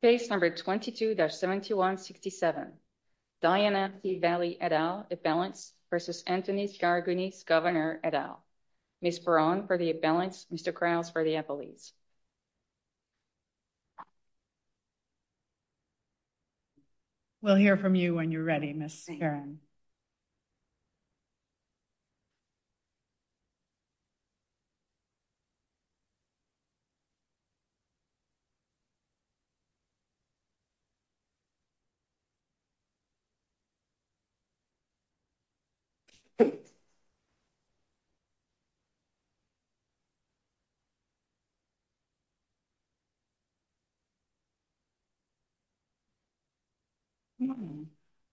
Page number 22-7167, Diana Valle et al. imbalance versus Antonis Karagounis, Governor et al. Ms. Peron for the imbalance, Mr. Kraus for the appellees. We'll hear from you when you're ready, Ms. Peron.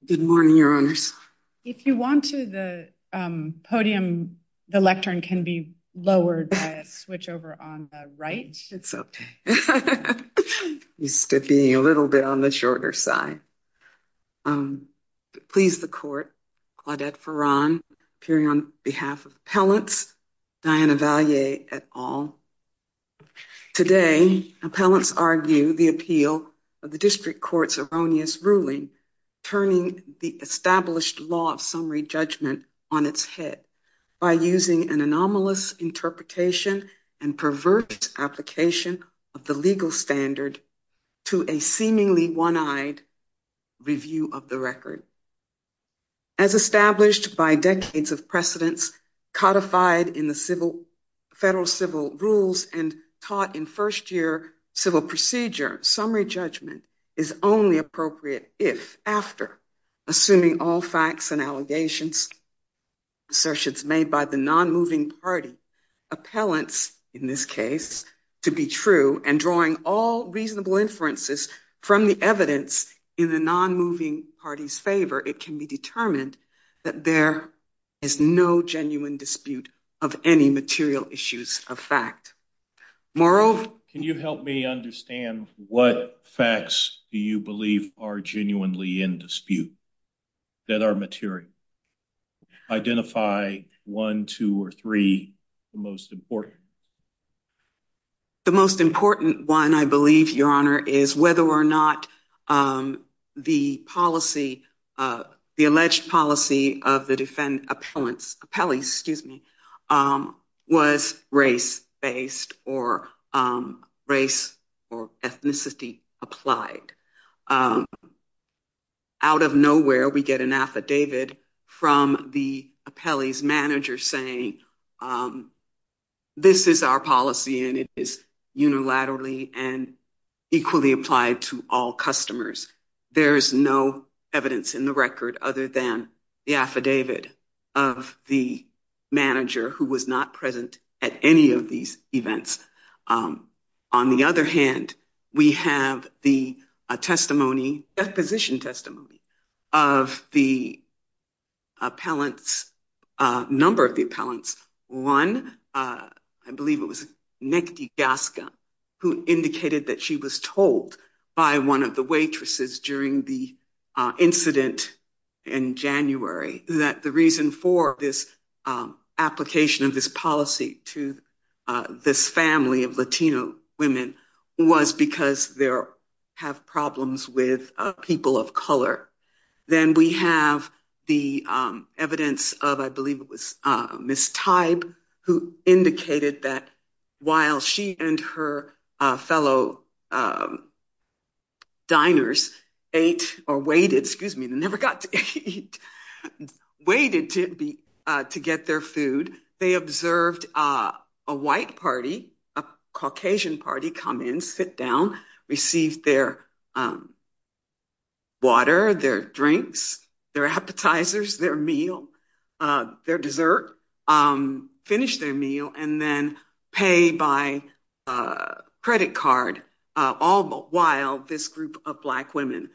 Good morning, your honors. If you want to the podium, the lectern can be lowered to switch over on the right. It's okay, used to being a little bit on the shorter side. Please the court, Claudette Peron, appearing on behalf of appellants, Diana Valle et al. Today, appellants argue the appeal of the district court's erroneous ruling, turning the established law of summary judgment on its head by using an anomalous interpretation and perverse application of the legal standard to a seemingly one-eyed review of the record. As established by decades of precedence, codified in the federal civil rules and taught in first year civil procedure, summary judgment is only appropriate if, after, assuming all facts and allegations, assertions made by the non-moving party, appellants, in this case, to be true and drawing all reasonable inferences from the evidence in the non-moving party's favor, it can be determined that there is no genuine dispute of any material issues of fact. Can you help me understand what facts do you believe are genuinely in dispute? That are material? Identify one, two, or three, the most important. The most important one, I believe, your honor, is whether or not the policy, the alleged policy of the defendant appellants, appellees, excuse me, was race-based or race or ethnicity applied. Out of nowhere, we get an affidavit from the appellee's manager saying this is our policy and it is unilaterally and equally applied to all customers. There is no evidence in the record other than the affidavit of the manager who was not present at any of these events. On the other hand, we have the testimony, deposition testimony, of the appellants, a number of the appellants. One, I believe it was Nick DiGasca, who indicated that she was told by one of the waitresses during the incident in January that the reason for this application of this policy to this family of was because they have problems with people of color. Then we have the evidence of, I believe it was Ms. Teib, who indicated that while she and her fellow diners ate or waited, excuse me, they never got to eat, waited to get their food, they observed a white party, a Caucasian party, come in, sit down, receive their water, their drinks, their appetizers, their meal, their dessert, finish their meal, and then pay by credit card, all while this group of black women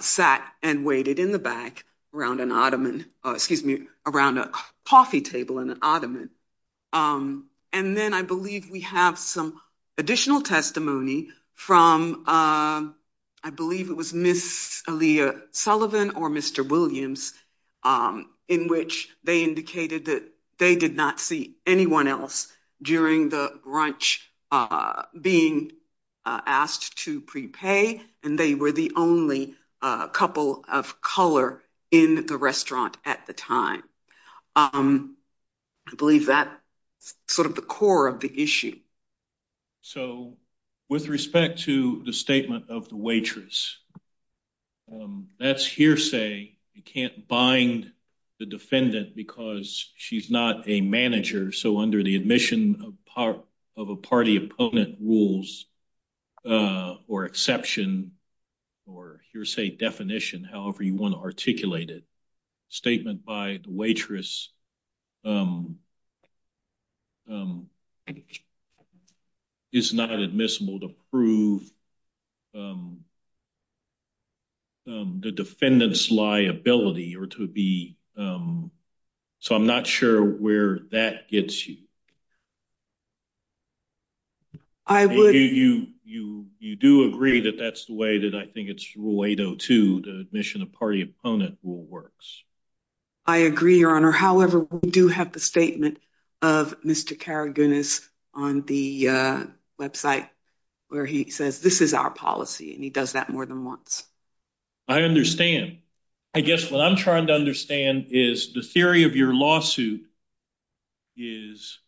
sat and waited in the back around an ottoman, excuse me, around a coffee table in an ottoman. And then I believe we have some additional testimony from, I believe it was Ms. Aaliyah Sullivan or Mr. Williams, in which they indicated that they did not see anyone else during the brunch being asked to prepay, and they were the only couple of color in the restaurant at the time. I believe that's sort of the core of the issue. So with respect to the statement of the waitress, that's hearsay. You can't bind the defendant because she's not a manager, so under the admission of a party opponent rules or exception or hearsay definition, however you want to articulate it, statement by the waitress is not admissible to prove the defendant's liability or to be, so I'm not sure where that gets you. I would. You do agree that that's the way that I think it's rule 802, the admission of party opponent rule works. I agree, Your Honor. However, we do have the statement of Mr. Karagounis on the website where he says, this is our policy, and he does that more than once. I understand. I guess what I'm trying to understand is the theory of your lawsuit is,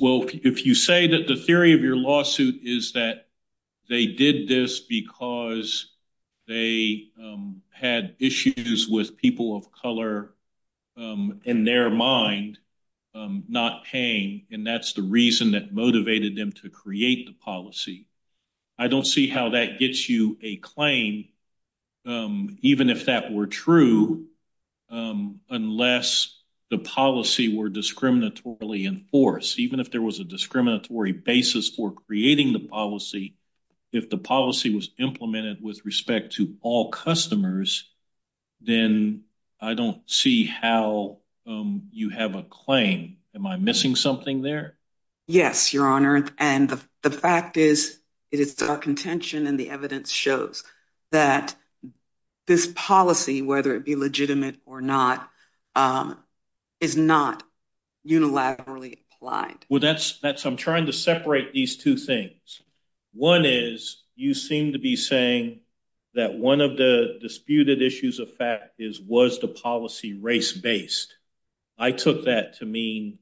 well, if you say that the theory of your lawsuit is that they did this because they had issues with people of color in their mind not paying, and that's the reason that motivated them to create the policy, I don't see how that gets you a claim, even if that were true, unless the policy were discriminatorily enforced. Even if there was a discriminatory basis for customers, then I don't see how you have a claim. Am I missing something there? Yes, Your Honor, and the fact is that it's a contention and the evidence shows that this policy, whether it be legitimate or not, is not unilaterally applied. Well, that's, I'm trying to separate these two things. One is, you seem to be saying that one of the disputed issues of fact is, was the policy race-based? I took that to mean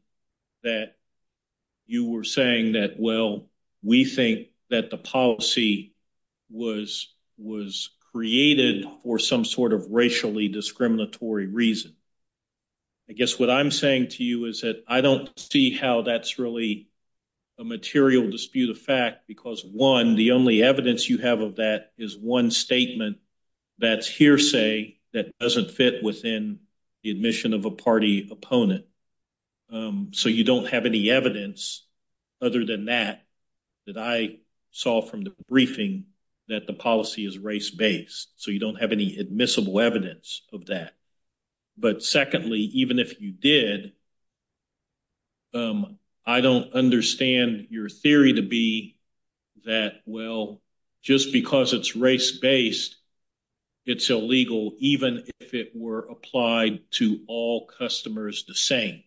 that you were saying that, well, we think that the policy was created for some sort of racially discriminatory reason. I guess what I'm saying to you is that I don't see how that's really a material dispute of fact because, one, the only evidence you have of that is one statement that's hearsay that doesn't fit within the admission of a party opponent, so you don't have any evidence other than that that I saw from the briefing that the policy is race-based, so you don't have any admissible evidence of that. But secondly, even if you did, I don't understand your theory to be that, well, just because it's race-based, it's illegal even if it were applied to all customers the same.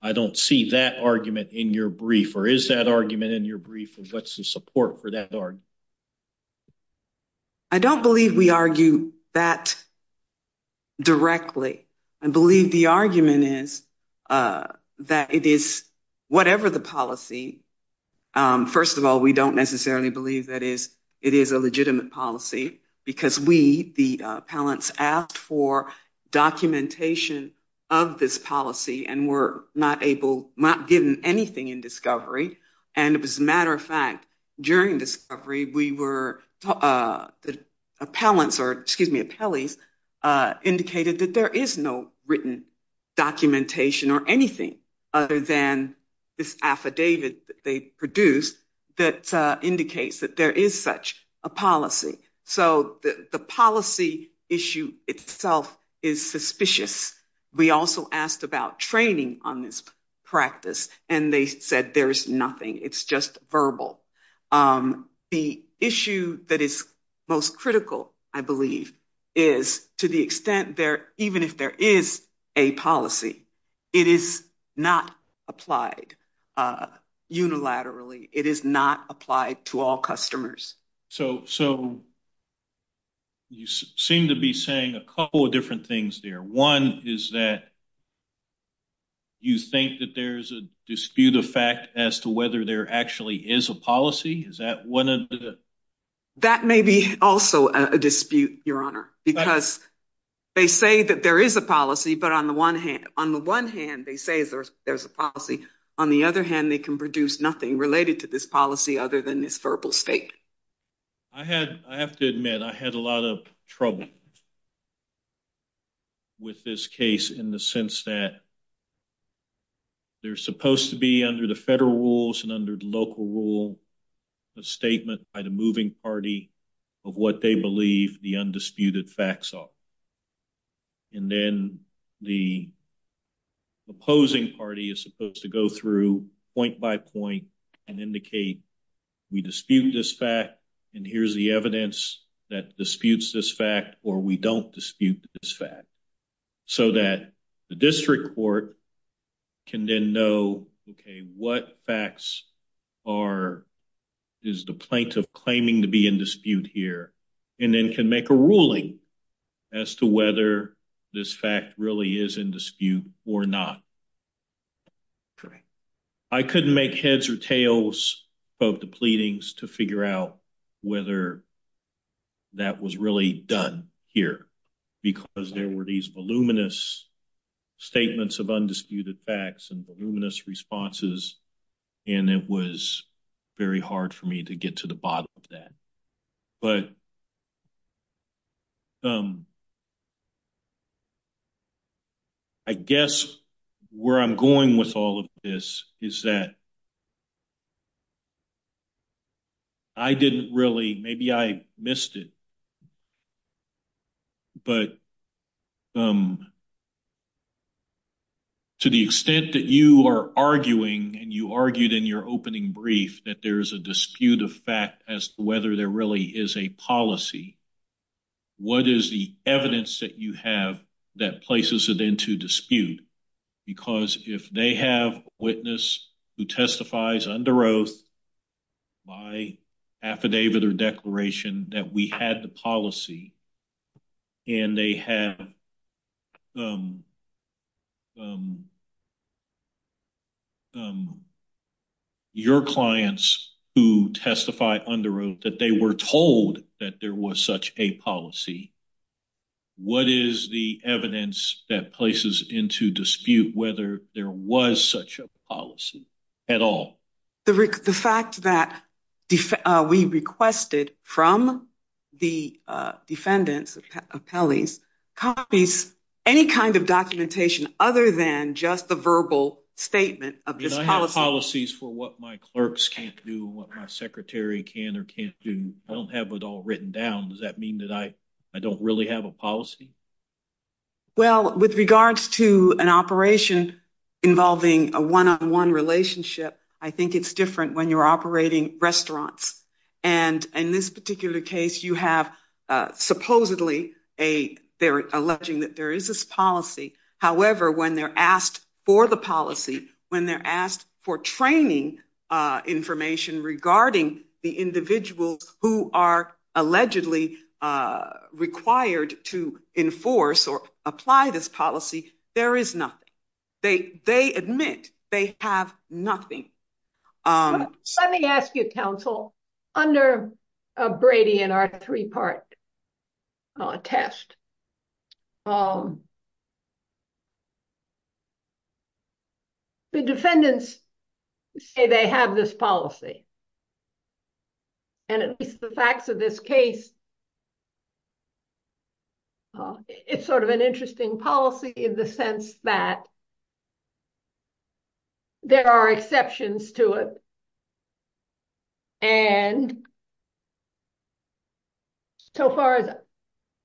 I don't see that argument in your brief, or is that argument in your brief, and what's the support for that argument? I don't believe we argue that directly. I believe the argument is that it is whatever the policy. First of all, we don't necessarily believe that it is a legitimate policy because we, the appellants, asked for documentation of this policy and were not given anything in discovery, and as a matter of fact, during discovery, we were, the appellants, or excuse me, appellees, indicated that there is no written documentation or anything other than this affidavit that they produced that indicates that there is such a policy, so the policy issue itself is suspicious. We also asked about training on this practice, and they said there's nothing. It's just verbal. The issue that is most critical, I believe, is to the extent that even if there is a policy, it is not applied unilaterally. It is not applied to all customers. So you seem to be saying a couple of different things there. One is that you think that there's a dispute of fact as to whether there actually is a policy. Is that one of the... That may be also a dispute, Your Honor, because they say that there is a policy, but on the one hand, they say there's a policy. On the other hand, they can produce nothing related to this policy other than this verbal state. I have to admit, I had a lot of trouble with this case in the sense that there's supposed to be under the federal rules and under the local rule a statement by the moving party of what they believe the undisputed facts are, and then the opposing party is supposed to go through point by point and indicate we dispute this fact, and here's the evidence that disputes this fact, or we don't dispute this fact, so that the district court can then know, okay, what facts is the plaintiff claiming to be in dispute or not? I couldn't make heads or tails of the pleadings to figure out whether that was really done here because there were these voluminous statements of undisputed facts and voluminous responses, and it was very hard for me to get to the bottom of that, but I guess where I'm going with all of this is that I didn't really, maybe I missed it, but to the extent that you are arguing and you argued in your opening brief that there's a dispute of fact as to whether there really is a policy, what is the evidence that you have that places it into dispute? Because if they have a witness who testifies under oath by affidavit or declaration that we had the policy and they have a witness, your clients who testify under oath that they were told that there was such a policy, what is the evidence that places into dispute whether there was such a policy at all? The fact that we requested from the defendants' appellees copies any kind of documentation other than just the verbal statement of the policy. I have policies for what my clerks can't do, what my secretary can or can't do. I don't have it all written down. Does that mean that I don't really have a policy? Well, with regards to an operation involving a one-on-one relationship, I think it's different when you're operating restaurants. In this particular case, you have supposedly, they're alleging that there is this policy. However, when they're asked for the policy, when they're asked for training information regarding the individuals who are allegedly required to enforce or apply this policy, there is nothing. They admit they have nothing. Let me ask you, counsel, under Brady and our three-part test, the defendants say they have this policy. At least the facts of this case, it's sort of an interesting policy in the sense that there are exceptions to it. And so far,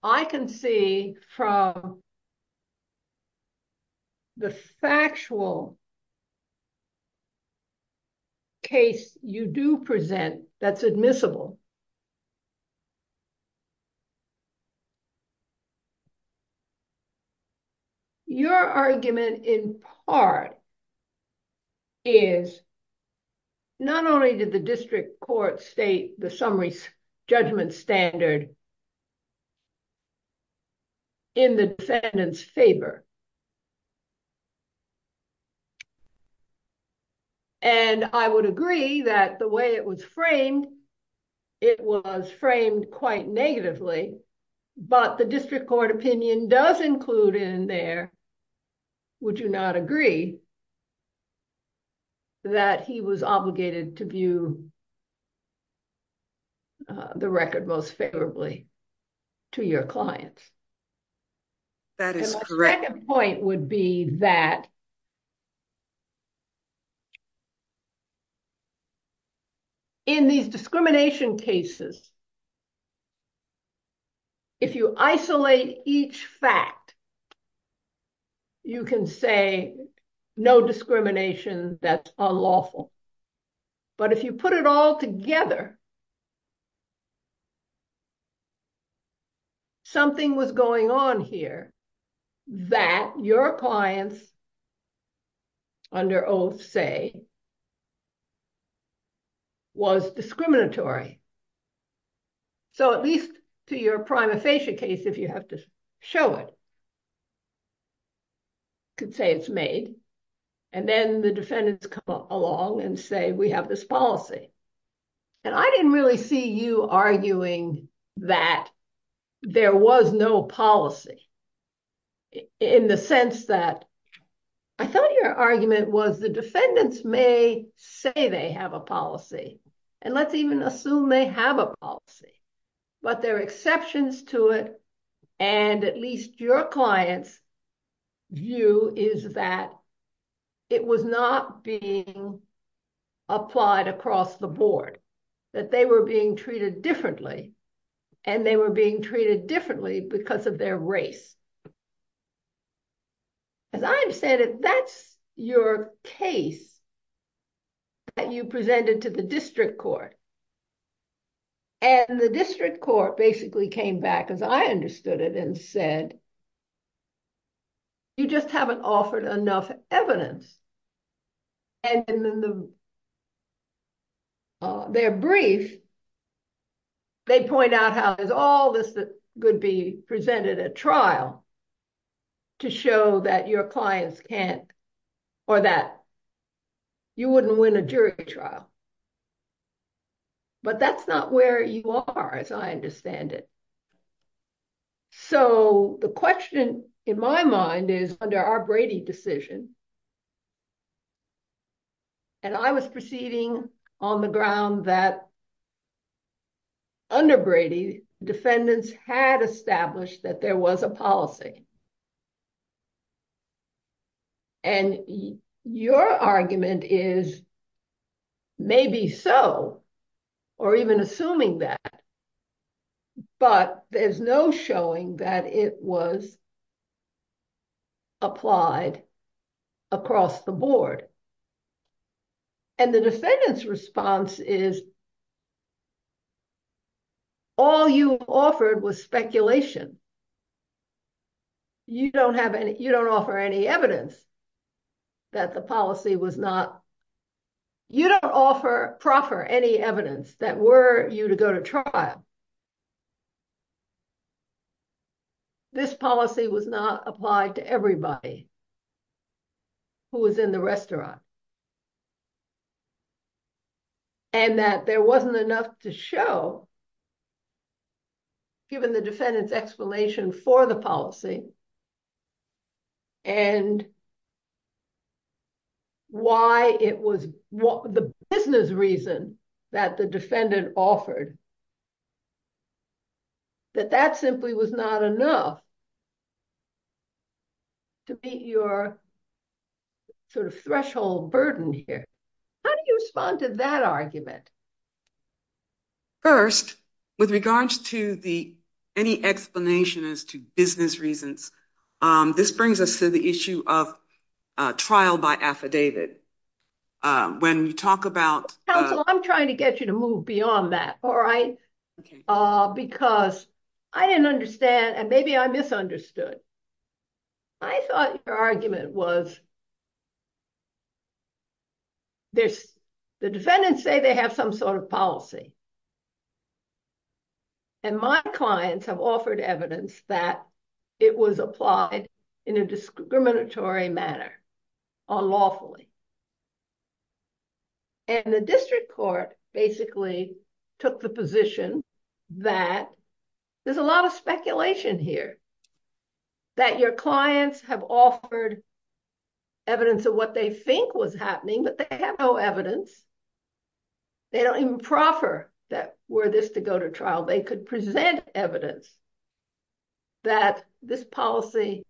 I can see from the factual case you do present that's admissible, but your argument in part is not only did the district court state the summary judgment standard in the defendant's favor, and I would agree that the way it was framed, it was framed quite negatively, but the district court opinion does include in there, would you not agree that he was obligated to view the record most favorably to your clients? That is correct. My point would be that in these discrimination cases, if you isolate each fact, you can say no discrimination, that's unlawful. But if you put it all together, something was going on here that your clients under oath say was discriminatory. So at least to your prima facie case, if you have to show it, you could say it's made, and then the defendants come along and say we have this policy. And I didn't really see you arguing that there was no policy in the sense that I thought your argument was the defendants may say they have a policy, and let's even assume they have a policy, but there are exceptions to it, and at least your client's view is that it was not being applied across the board, that they were being treated differently, and they were being treated differently because of their race. As I understand it, that's your case that you presented to the district court, and the district court basically came back, as I understood it, and said you just haven't offered enough evidence. And in their brief, they point out how there's all this that could be presented at trial to show that your clients can't or that you wouldn't win a jury trial. But that's not where you are, as I understand it. So the question in my mind is under our Brady decision, and I was proceeding on the ground that under Brady, defendants had established that there was a policy. And your argument is maybe so, or even assuming that, but there's no showing that it was applied across the board. And the defendant's response is that all you offered was speculation. You don't have any, you don't offer any evidence that the policy was not, you don't offer, proffer any evidence that were you to go to trial. This policy was not applied to everybody who was in the restaurant. And that there wasn't enough to show, given the defendant's explanation for the policy, and why it was, the business reason that the defendant offered, that that simply was not enough to meet your sort of threshold burden here. How do you respond to that argument? First, with regards to the, any explanation as to business reasons, this brings us to the issue of trial by affidavit. When you talk about- Counselor, I'm trying to get you to move beyond that, all right? Because I didn't understand, and maybe I misunderstood. I thought your argument was this, the defendants say they have some sort of policy. And my clients have offered evidence that it was applied in a discriminatory manner, unlawfully. And the district court basically took the position that there's a lot of speculation here, that your clients have offered evidence of what they think was happening, but they have no evidence. They don't even proffer that, were this to go to trial. They could present evidence that this policy,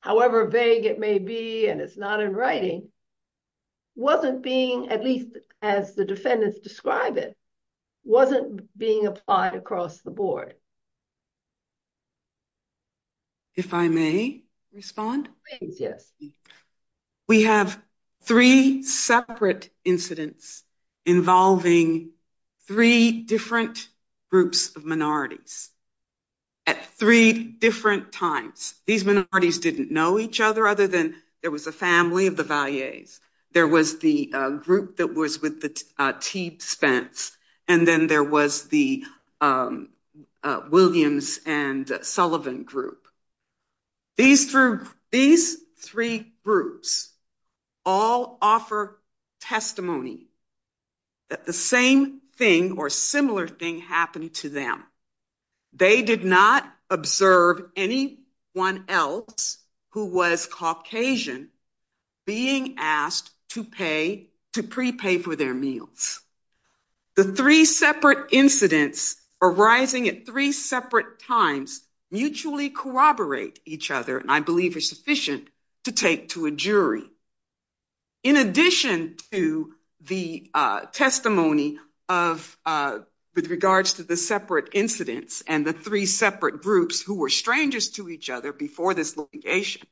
however vague it may be, and it's not in writing, wasn't being, at least as the defendants describe it, wasn't being applied across the board. If I may respond? Please, yes. We have three separate incidents involving three different groups of minorities at three different times. These minorities didn't know each other other than there was a family of Valleys. There was the group that was with T. Spence, and then there was the Williams and Sullivan group. These three groups all offer testimony that the same thing or similar thing happened to them. They did not observe anyone else who was Caucasian being asked to pay, to prepay for their meals. The three separate incidents arising at three separate times mutually corroborate each other, and I believe it's sufficient to take to a jury. In addition to the testimony of, with regards to the separate incidents and the three separate groups who were strangers to each other before this litigation,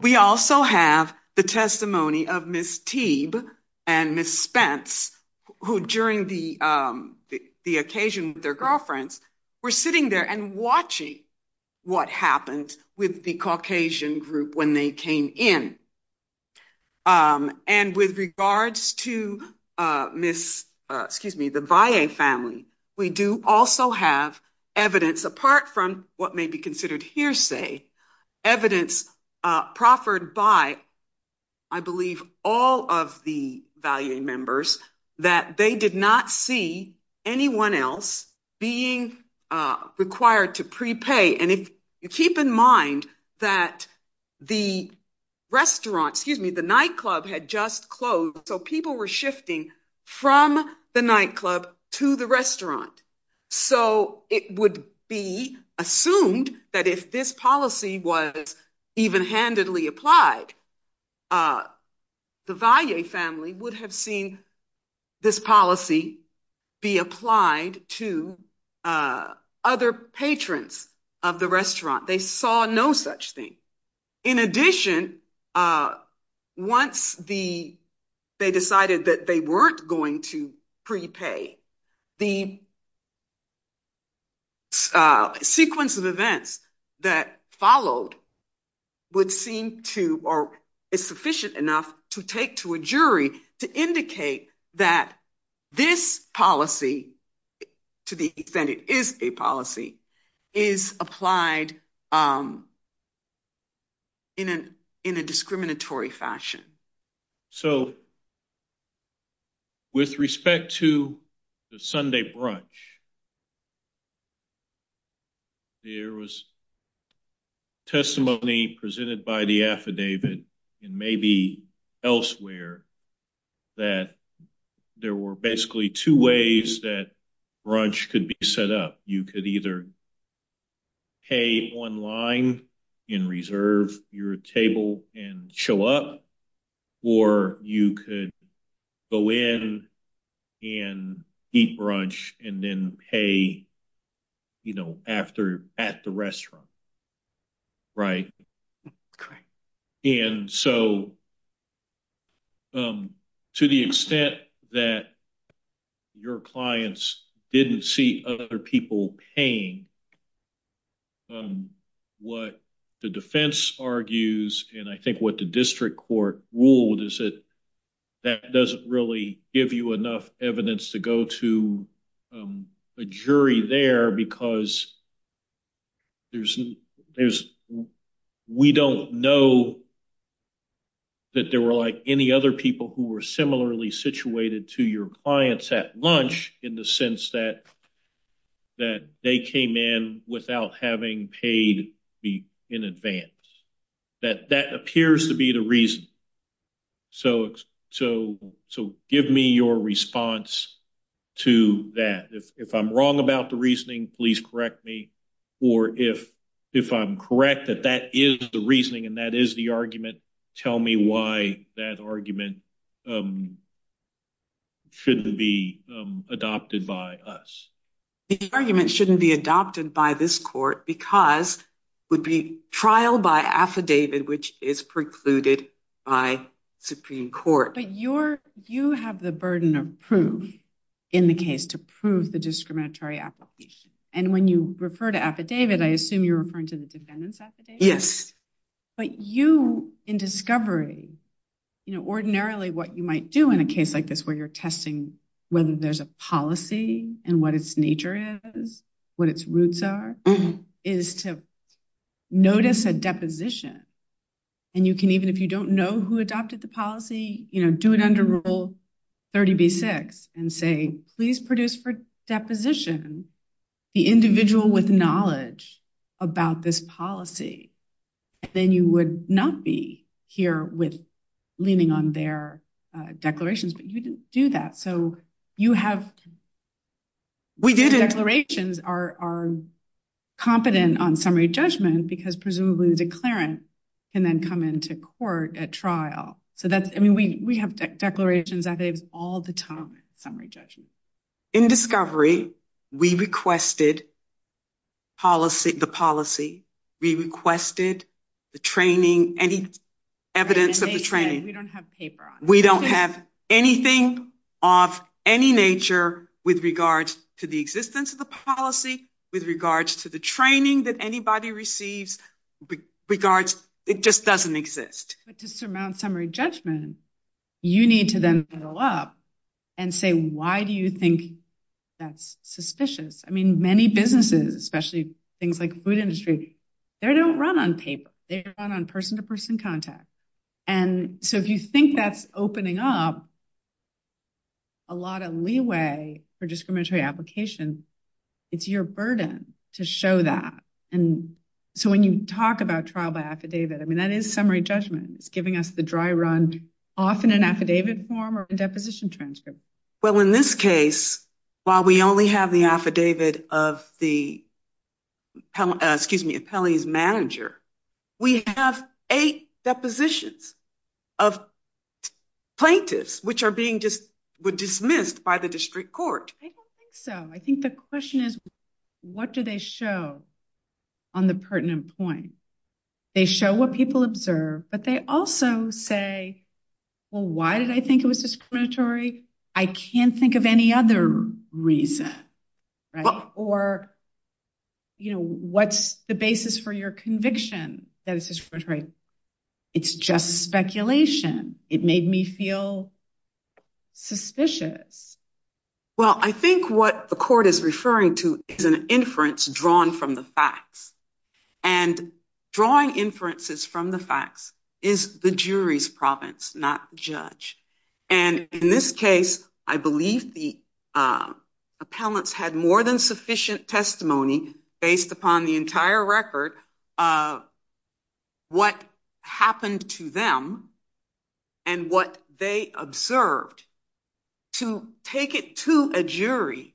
we also have the testimony of Ms. Teeb and Ms. Spence, who during the occasion with their girlfriends were sitting there and watching what happened with the Caucasian group when they came in. With regards to the Valley family, we do also have evidence apart from what may be considered hearsay, evidence proffered by, I believe, all of the Valley members that they did not see anyone else being that the restaurant, excuse me, the nightclub had just closed, so people were shifting from the nightclub to the restaurant. It would be assumed that if this policy was even handedly applied, the Valley family would have seen this policy be applied to other patrons of the restaurant. They saw no such thing. In addition, once they decided that they weren't going to prepay, the sequence of events that followed would seem to or is sufficient enough to take to a jury to indicate that this policy, to the extent it is a policy, is applied in a discriminatory fashion. With respect to the Sunday brunch, there was testimony presented by the affidavit and maybe elsewhere that there were basically two ways that brunch could be set up. You could either pay online and reserve your table and show up, or you could go in and eat brunch and then pay at the restaurant. To the extent that your clients did not see other people paying, what the defense argues and I think what the district court ruled is that that doesn't really give you enough evidence to go to a jury there because we don't know that there were any other people who were similarly situated to your clients at lunch in the sense that they came in without having paid in advance. That appears to be the reason. Give me your response to that. If I'm wrong about the reasoning, please correct me, or if I'm correct that that is the reasoning and that is the argument, tell me why that argument shouldn't be adopted by us. The argument shouldn't be adopted by this court because would be trial by affidavit which is precluded by Supreme Court. But you have the burden of proof in the case to prove the discriminatory application, and when you refer to affidavit, I assume you're referring to the defendant's affidavit? Yes. But you, in discovery, you know, ordinarily what you might do in a case like this where you're testing whether there's a policy and what its nature is, what its roots are, is to notice a deposition. And you can even, if you don't know who adopted the policy, you know, do it under rule 30b-6 and say, please produce for deposition the individual with knowledge about this policy. And then you would not be here with leaning on their declarations, but you didn't do that. So you have, declarations are competent on summary judgment because presumably the declarant can then come into court at trial. So that's, I mean, we have declarations that they've all judged. In discovery, we requested the policy, we requested the training, any evidence of the training. We don't have anything of any nature with regards to the existence of the policy, with regards to the training that anybody receives, regards, it just doesn't exist. But to surmount summary judgment, you need to then fill up and say, why do you think that's suspicious? I mean, many businesses, especially things like food industry, they don't run on paper. They run on person to person contact. And so if you think that's opening up a lot of leeway for discriminatory applications, it's your burden to show that. And so when you talk about trial by affidavit, I mean, that is summary judgment, giving us the dry run, often an affidavit form or a deposition transcript. Well, in this case, while we only have the affidavit of the, excuse me, the penalties manager, we have eight depositions of plaintiffs, which are being just dismissed by the district court. I don't think so. I think the question is, what do they show on the pertinent point? They show what people observe, but they also say, well, why did I think it was discriminatory? I can't think of any other reason. Or, you know, what's the basis for your conviction that it's discriminatory? It's just speculation. It made me feel suspicious. Well, I think what the court is referring to is an inference drawn from the facts. And drawing inferences from the facts is the jury's province, not the judge. And in this case, I believe the appellants had more than sufficient testimony based upon the entire record what happened to them and what they observed to take it to a jury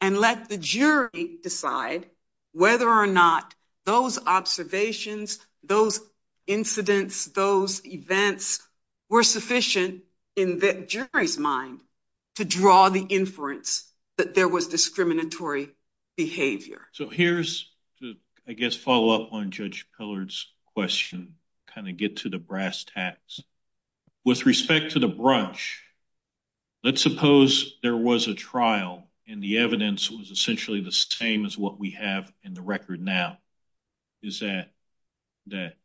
and let the jury decide whether or not those observations, those incidents, those events were sufficient in the jury's mind to draw the inference that there was discriminatory behavior. So here's the, I guess, follow-up on Judge Pillard's question, kind of get to the brass tacks. With respect to the brunch, let's suppose there was a trial and the evidence was essentially the same as what we have in the record now, is that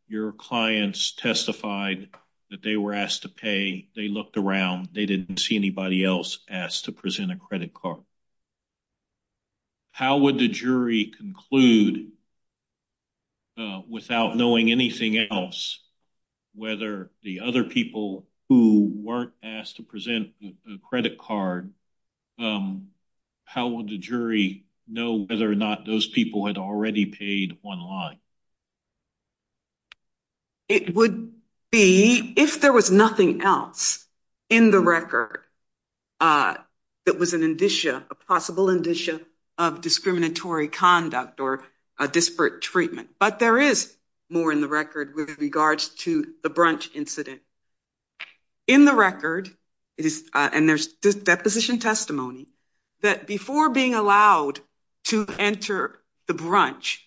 your clients testified that they were asked to pay. They looked around. They didn't see anybody else asked to present a credit card. How would the jury conclude without knowing anything else whether the other people who weren't asked to present the credit card, how would the jury know whether or not those people had already paid one line? It would be, if there was nothing else in the record that was an indicia, a possible indicia of discriminatory conduct or a disparate treatment. But there is more in the record with regards to the brunch incident. In the record, and there's this deposition testimony, that before being allowed to enter the brunch,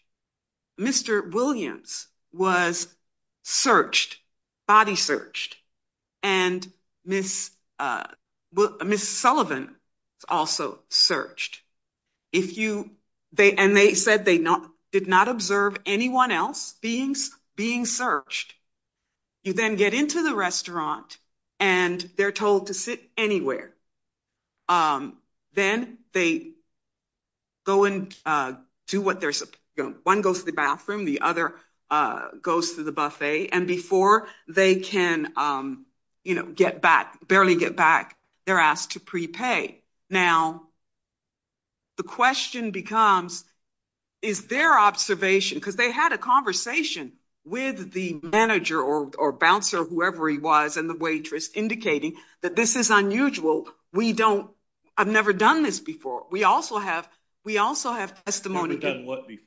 Mr. Williams was searched, body searched, and Ms. Sullivan was also searched. And they said they did not observe anyone else being searched. You then get into the restaurant and they're told to sit anywhere. Then they go and do what they're supposed to do. One goes to the bathroom, the other goes to the buffet, and before they can barely get back, they're asked to prepay. Now, the question becomes, is their observation, because they had a waitress, indicating that this is unusual? I've never done this before. We also have testimony. Never done what before?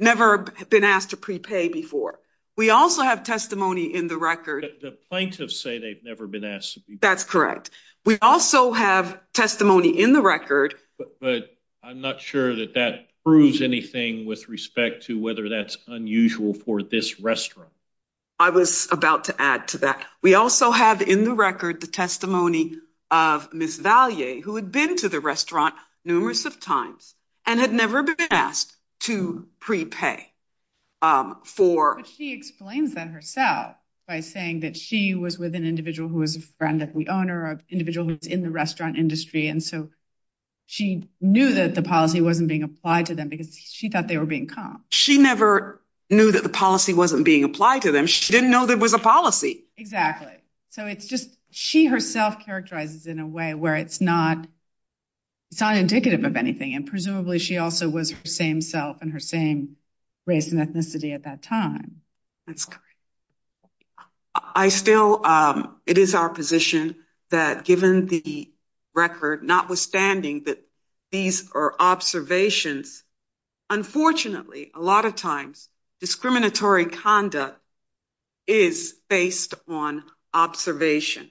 Never been asked to prepay before. We also have testimony in the record. The plaintiffs say they've never been asked to prepay. That's correct. We also have testimony in the record. But I'm not sure that that proves anything with respect to whether that's unusual for this record. We also have in the record the testimony of Ms. Vallier, who had been to the restaurant numerous of times and had never been asked to prepay. She explains that herself by saying that she was with an individual who was a friend of the owner, or an individual who was in the restaurant industry, and so she knew that the policy wasn't being applied to them because she thought they were being caught. She never knew that the policy wasn't being applied to them. She didn't know there was a policy. Exactly. She herself characterizes in a way where it's not indicative of anything, and presumably she also was her same self and her same race and ethnicity at that time. It is our position that given the record, notwithstanding that these are observations, unfortunately, a lot of times discriminatory conduct is based on observation.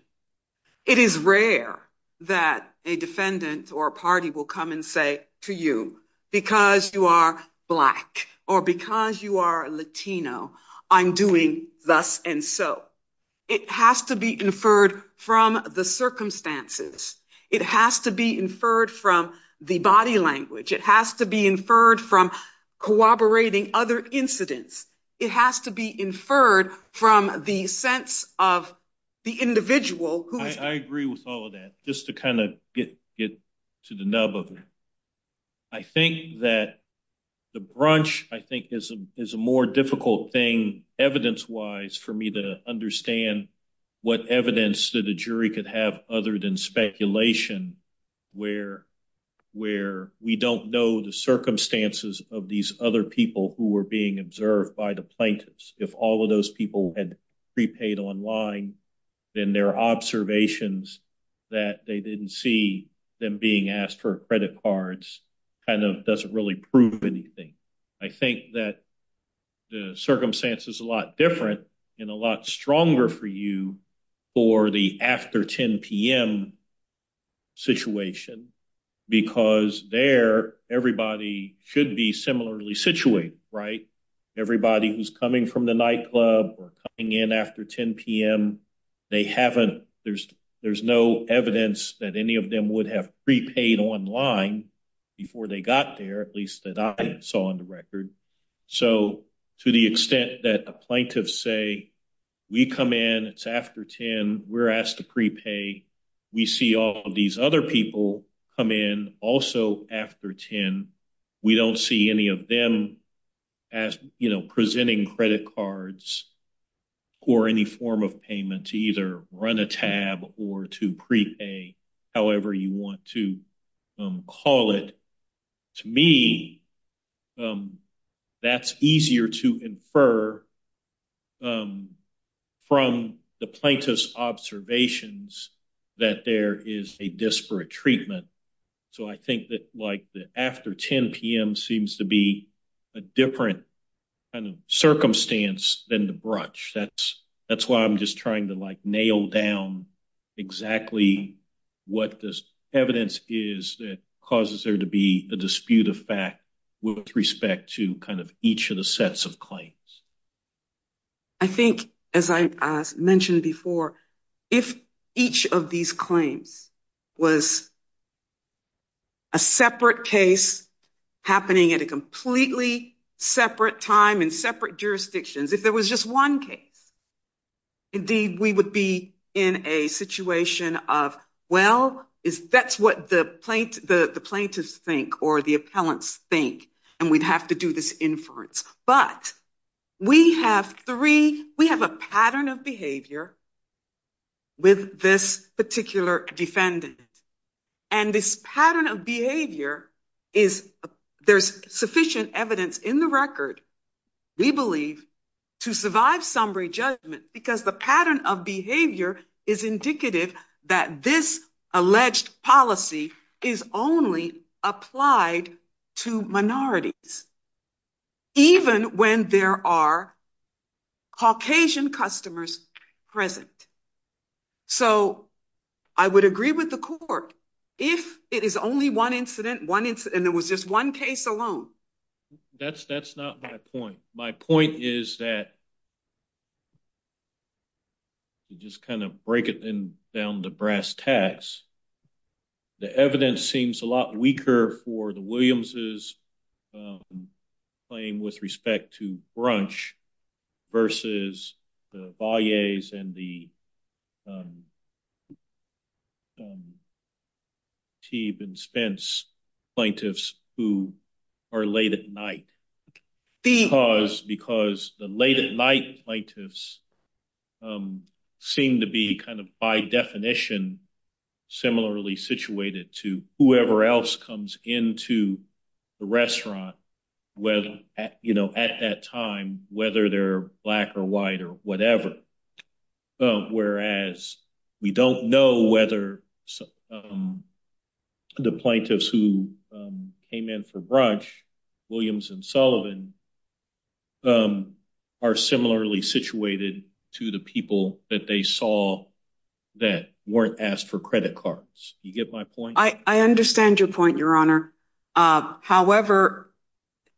It is rare that a defendant or a party will come and say to you, because you are Black, or because you are Latino, I'm doing thus and so. It has to be inferred from the circumstances. It has to be inferred from the body language. It has to be inferred from corroborating other incidents. It has to be inferred from the sense of the individual. I agree with all of that. Just to kind of get to the nub of it, I think that the brunch, I think, is a more difficult thing evidence-wise for me to understand what evidence that a jury could have other than speculation where we don't know the circumstances of these other people who were being observed by the plaintiffs. If all of those people had prepaid online, then their observations that they didn't see them being asked for credit cards kind of doesn't really prove anything. I think that the circumstance is a lot different and a lot stronger for you for the after 10 p.m. situation because there, everybody should be similarly situated, right? Everybody who's coming from the nightclub or coming in after 10 p.m., they haven't, there's no evidence that any of them would have prepaid online before they got there, at least that I saw on the record. So, to the extent that the plaintiffs say, we come in, it's after 10, we're asked to prepay, we see all of these other people come in also after 10, we don't see any of them presenting credit cards or any form of payment to either run a tab or to prepay, however you want to call it. To me, that's easier to infer from the plaintiff's observations that there is a disparate treatment. So, I think that, like, the after 10 p.m. seems to be a different kind of circumstance than the brunch. That's why I'm just trying to, like, nail down exactly what this evidence is that causes there to be a dispute of respect to kind of each of the sets of claims. I think, as I mentioned before, if each of these claims was a separate case happening at a completely separate time in separate jurisdictions, if it was just one case, indeed, we would be in a situation of, well, that's what the plaintiffs think or the appellants think, and we'd have to do this inference. But we have three, we have a pattern of behavior with this particular defendant, and this pattern of behavior is, there's sufficient evidence in the record, we believe, to survive summary judgment because the pattern of behavior is indicative that this alleged policy is only applied to minorities, even when there are Caucasian customers present. So, I would agree with the court. If it is only one incident, one incident, and it was just one case alone. That's not my point. My point is that to just kind of break it in down the brass tacks, the evidence seems a lot weaker for the Williams' claim with respect to brunch versus the Valleys and the plaintiffs seem to be kind of, by definition, similarly situated to whoever else comes into the restaurant at that time, whether they're black or white or whatever. Whereas, we don't know whether the plaintiffs who came in for brunch, Williams and Sullivan, are similarly situated to the people that they saw that weren't asked for credit cards. Do you get my point? I understand your point, Your Honor. However,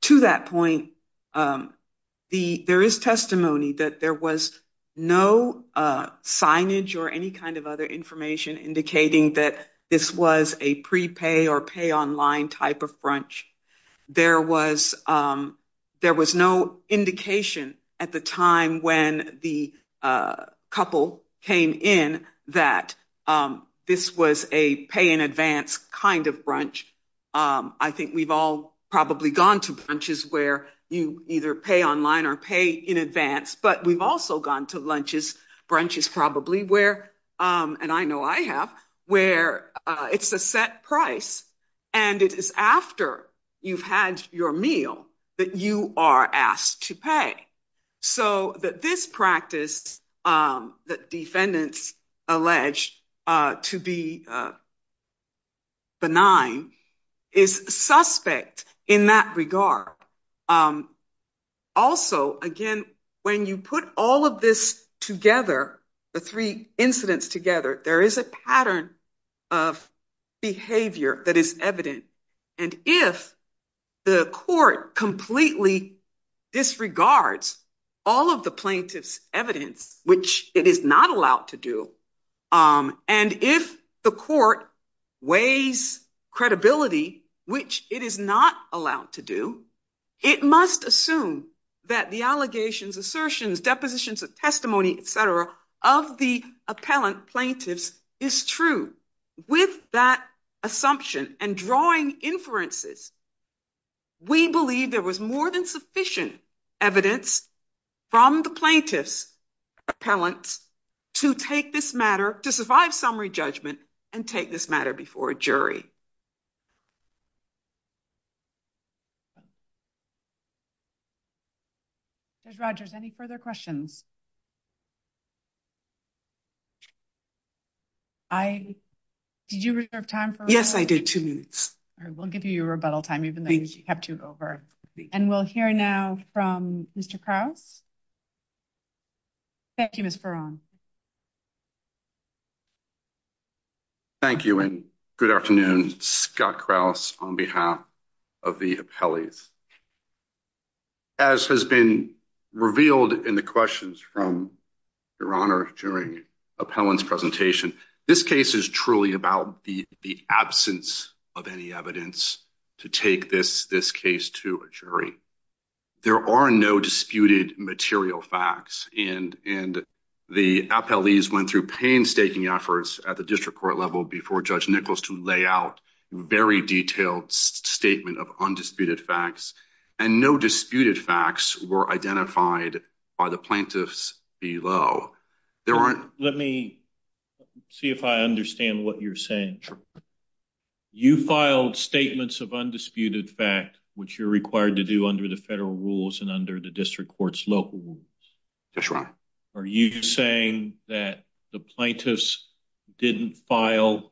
to that point, there is testimony that there was no signage or any kind of other information indicating that this was a prepay or pay online type of brunch. There was no indication at the time when the couple came in that this was a pay in advance kind of brunch. I think we've all probably gone to brunches where you either pay online or pay in advance, but we've also gone to lunches, brunches probably, where, and I know I have, where it's a set price and it is after you've had your meal that you are asked to pay. So that this practice that defendants allege to be the three incidents together, there is a pattern of behavior that is evident. And if the court completely disregards all of the plaintiff's evidence, which it is not allowed to do, and if the court weighs credibility, which it is not allowed to do, it must assume that the of the appellant plaintiff's is true. With that assumption and drawing inferences, we believe there was more than sufficient evidence from the plaintiff's appellant to take this matter, to survive summary judgment and take this matter before a jury. Judge Rogers, any further questions? I, did you reserve time? Yes, I did. Two minutes. All right. We'll give you a rebuttal time, even though you have to go very quickly. And we'll hear now from Mr. Krause. Thank you, Ms. Perron. Thank you and good afternoon. Scott Krause on behalf of the appellees. As has been revealed in the questions from your honor during appellant's presentation, this case is truly about the absence of any evidence to take this case to a jury. There are no disputed material facts and the appellees went through painstaking efforts at the district court level before Judge Nichols to lay out very detailed statement of undisputed facts and no disputed facts were identified by the plaintiffs below. There aren't... Let me see if I understand what you're saying. You filed statements of undisputed fact, which you're required to do under the federal rules and under the district court's local rules. That's right. Are you saying that the plaintiffs didn't file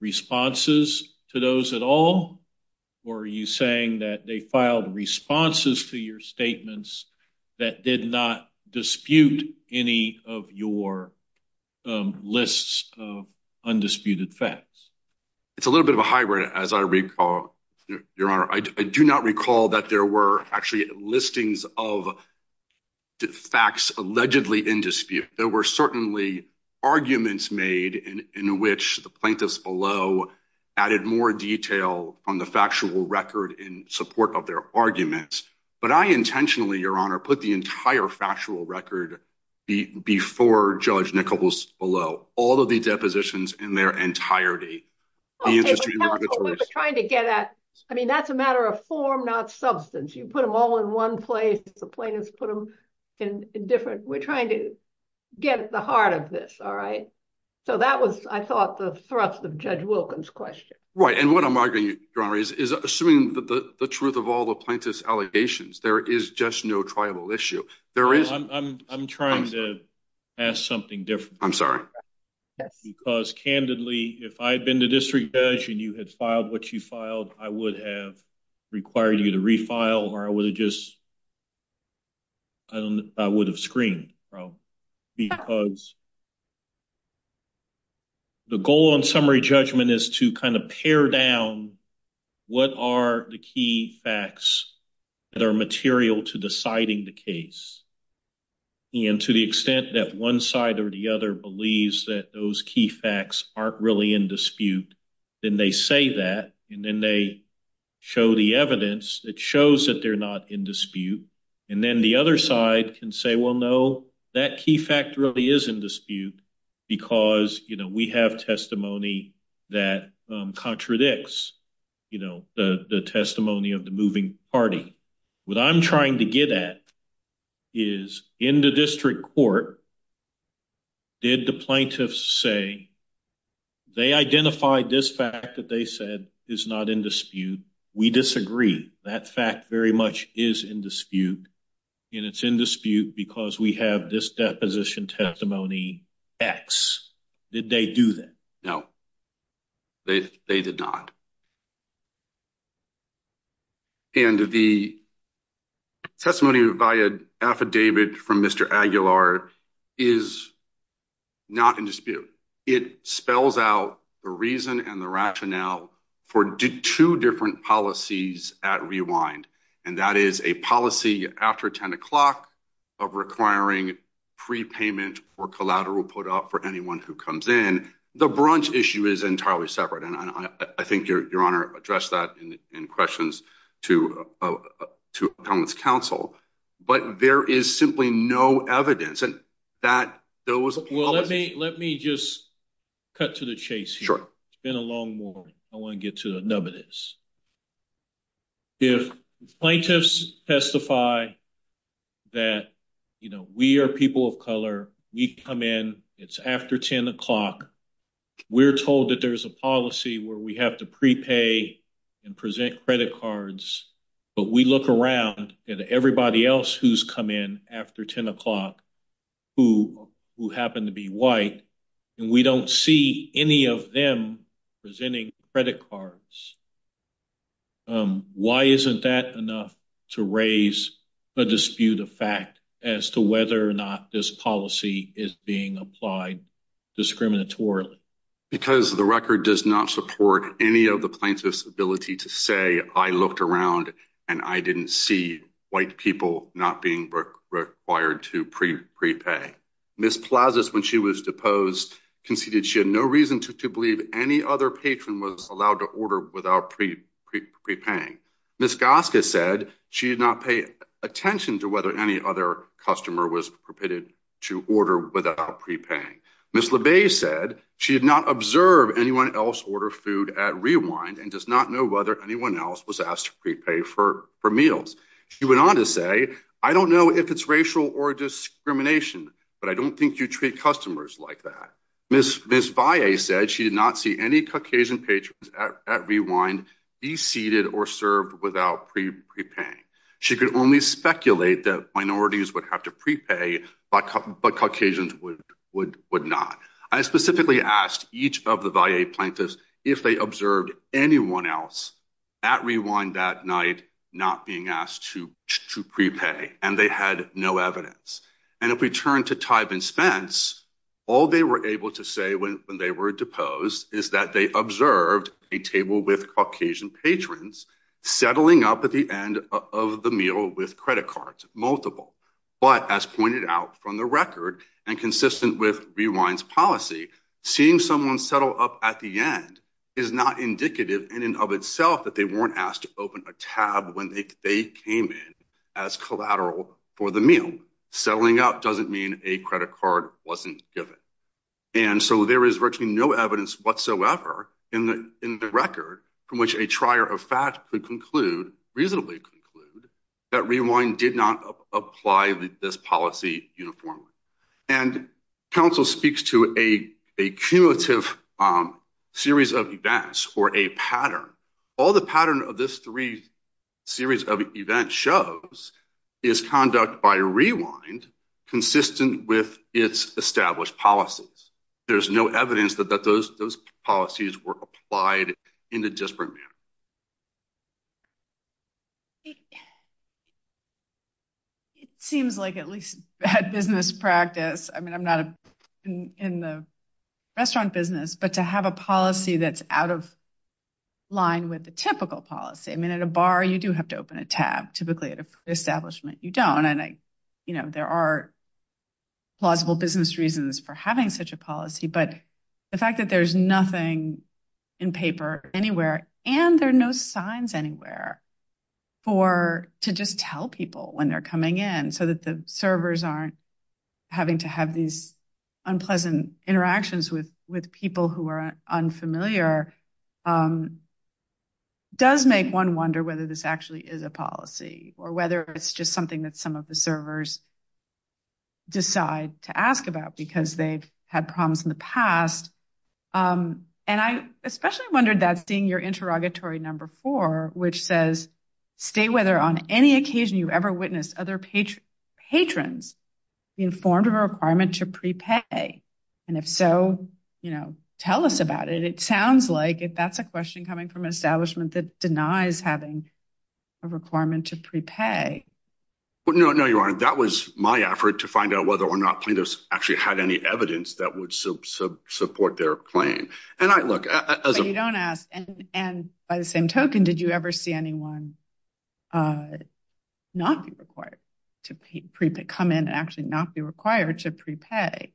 responses to those at all? Or are you saying that they filed responses to your statements that did not dispute any of your lists of undisputed facts? It's a little bit of a hybrid, as I recall, your honor. I do not recall that there were actually listings of the facts allegedly in dispute. There were certainly arguments made in which the plaintiffs below added more detail on the factual record in support of their arguments. But I intentionally, your honor, put the entire factual record before Judge Nichols below, all of the depositions in their entirety. I mean, that's a matter of form, not substance. You put them all in one place. The plaintiffs I thought the thrust of Judge Wilkins' question. Right. And what I'm arguing, your honor, is assuming the truth of all the plaintiff's allegations, there is just no tribal issue. I'm trying to ask something different. I'm sorry. Because candidly, if I'd been the district judge and you had filed what you filed, I would have required you to the goal on summary judgment is to kind of pare down what are the key facts that are material to deciding the case. And to the extent that one side or the other believes that those key facts aren't really in dispute, then they say that and then they show the evidence that shows that they're not in dispute. And then the other side can say, well, no, that key fact really is in dispute because, you know, we have testimony that contradicts, you know, the testimony of the moving party. What I'm trying to get at is in the district court, did the plaintiffs say they identified this fact that they said is not in dispute. We disagree. That fact very much is in dispute and it's in dispute because we have this deposition testimony X. Did they do that? No, they did not. And the testimony via affidavit from Mr. Aguilar is not in dispute. It spells out the reason and the rationale for two different policies at Rewind. And that is a policy after 10 o'clock of requiring prepayment or collateral put up for anyone who comes in. The branch issue is entirely separate. And I think your honor addressed that in questions to council, but there is simply no evidence that those. Let me just cut to the chase here. It's been a long morning. I want to get to the nub of this. If plaintiffs testify that, you know, we are people of color, we come in, it's after 10 o'clock. We're told that there's a policy where we have to prepay and present credit cards, but we look around at everybody else who's come in after 10 o'clock who happened to be white, and we don't see any of them presenting credit cards. Why isn't that enough to raise a dispute of fact as to whether or not this policy is being applied discriminatorily? Because the record does not support any of the plaintiff's ability to say I looked around and I didn't see white people not being required to prepay. Ms. Plazas, when she was deposed, conceded she had no reason to believe any other patron was allowed to order without prepaying. Ms. Gossett said she did not pay attention to whether any other customer was permitted to order without prepaying. Ms. LeBay said she did not observe anyone else order food at Rewind and does not know whether anyone else was asked to prepay for meals. She went on to say I don't know if it's racial or discrimination, but I don't think you treat customers like that. Ms. Plazas said she could only speculate that minorities would have to prepay, but Caucasians would not. I specifically asked each of the VA plaintiffs if they observed anyone else at Rewind that night not being asked to prepay, and they had no evidence. And if we turn to Tyvin Spence, all they were able to say when they were deposed is that they observed a table with Caucasian patrons settling up at the end of the meal with credit cards, multiple. But as pointed out from the record and consistent with Rewind's policy, seeing someone settle up at the end is not indicative in and of itself that they weren't asked to open a tab when they came in as collateral for the meal. Settling up doesn't mean a credit card wasn't given. And so there is virtually no record from which a trier of fat could reasonably conclude that Rewind did not apply this policy uniformly. And counsel speaks to a cumulative series of events or a pattern. All the pattern of this three series of events shows is conduct by Rewind consistent with its established policies. There's no evidence that those policies were applied in a disparate manner. It seems like at least bad business practice. I mean, I'm not in the restaurant business, but to have a policy that's out of line with the typical policy. I mean, at a bar, you do have to open a tab. Typically at an establishment, you don't. And, you know, there are plausible business reasons for having such a policy, but the fact that there's nothing in paper anywhere and there are no signs anywhere to just tell people when they're coming in so that the servers aren't having to have these unpleasant interactions with people who are unfamiliar does make one wonder whether this actually is a policy or whether it's just something that some of the servers decide to ask about because they've had problems in the past. And I especially wondered that being your interrogatory number four, which says, state whether on any occasion you've ever witnessed other patrons informed of a requirement to prepay. And if so, you know, tell us about it. It sounds like if that's a question coming from an establishment that denies having a requirement to prepay. Well, no, no, you're right. That was my effort to find out whether or not plaintiffs actually had any evidence that would support their claim. And I look at. You don't ask. And by the same token, did you ever see anyone not be required to come in and actually not be required to prepay?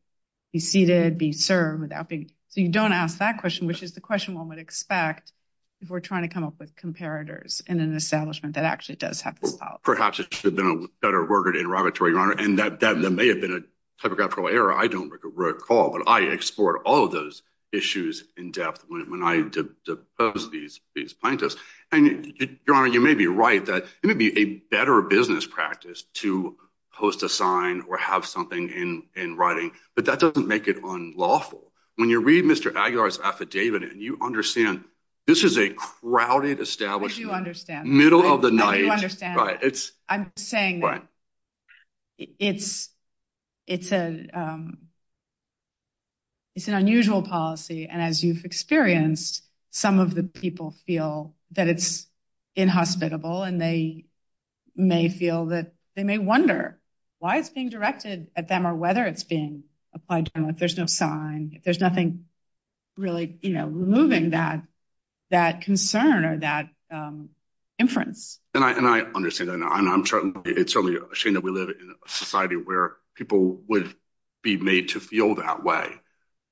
You see to be served without you don't ask that question, which is the question one would expect. If we're trying to come up with comparators in an establishment that actually does have to. Perhaps it should have been a better word interrogatory. And that may have been a typographical error. I don't recall, but I explored all of those issues in depth when I was a plaintiff. And you may be right that it would be a better business practice to post a sign or have something in writing. But that doesn't make it unlawful. When you read Mr. Aguilar's affidavit and you understand this is a crowded establishment. You understand. Middle of the night. I'm saying it's an unusual policy. And as you've experienced, some of the people feel that it's inhospitable and they may wonder why it's being directed at them or whether it's being applied to them. There's no sign. There's nothing really moving that concern or that inference. And I understand that. It's certainly a shame that we live in a society where people would be made to feel that way.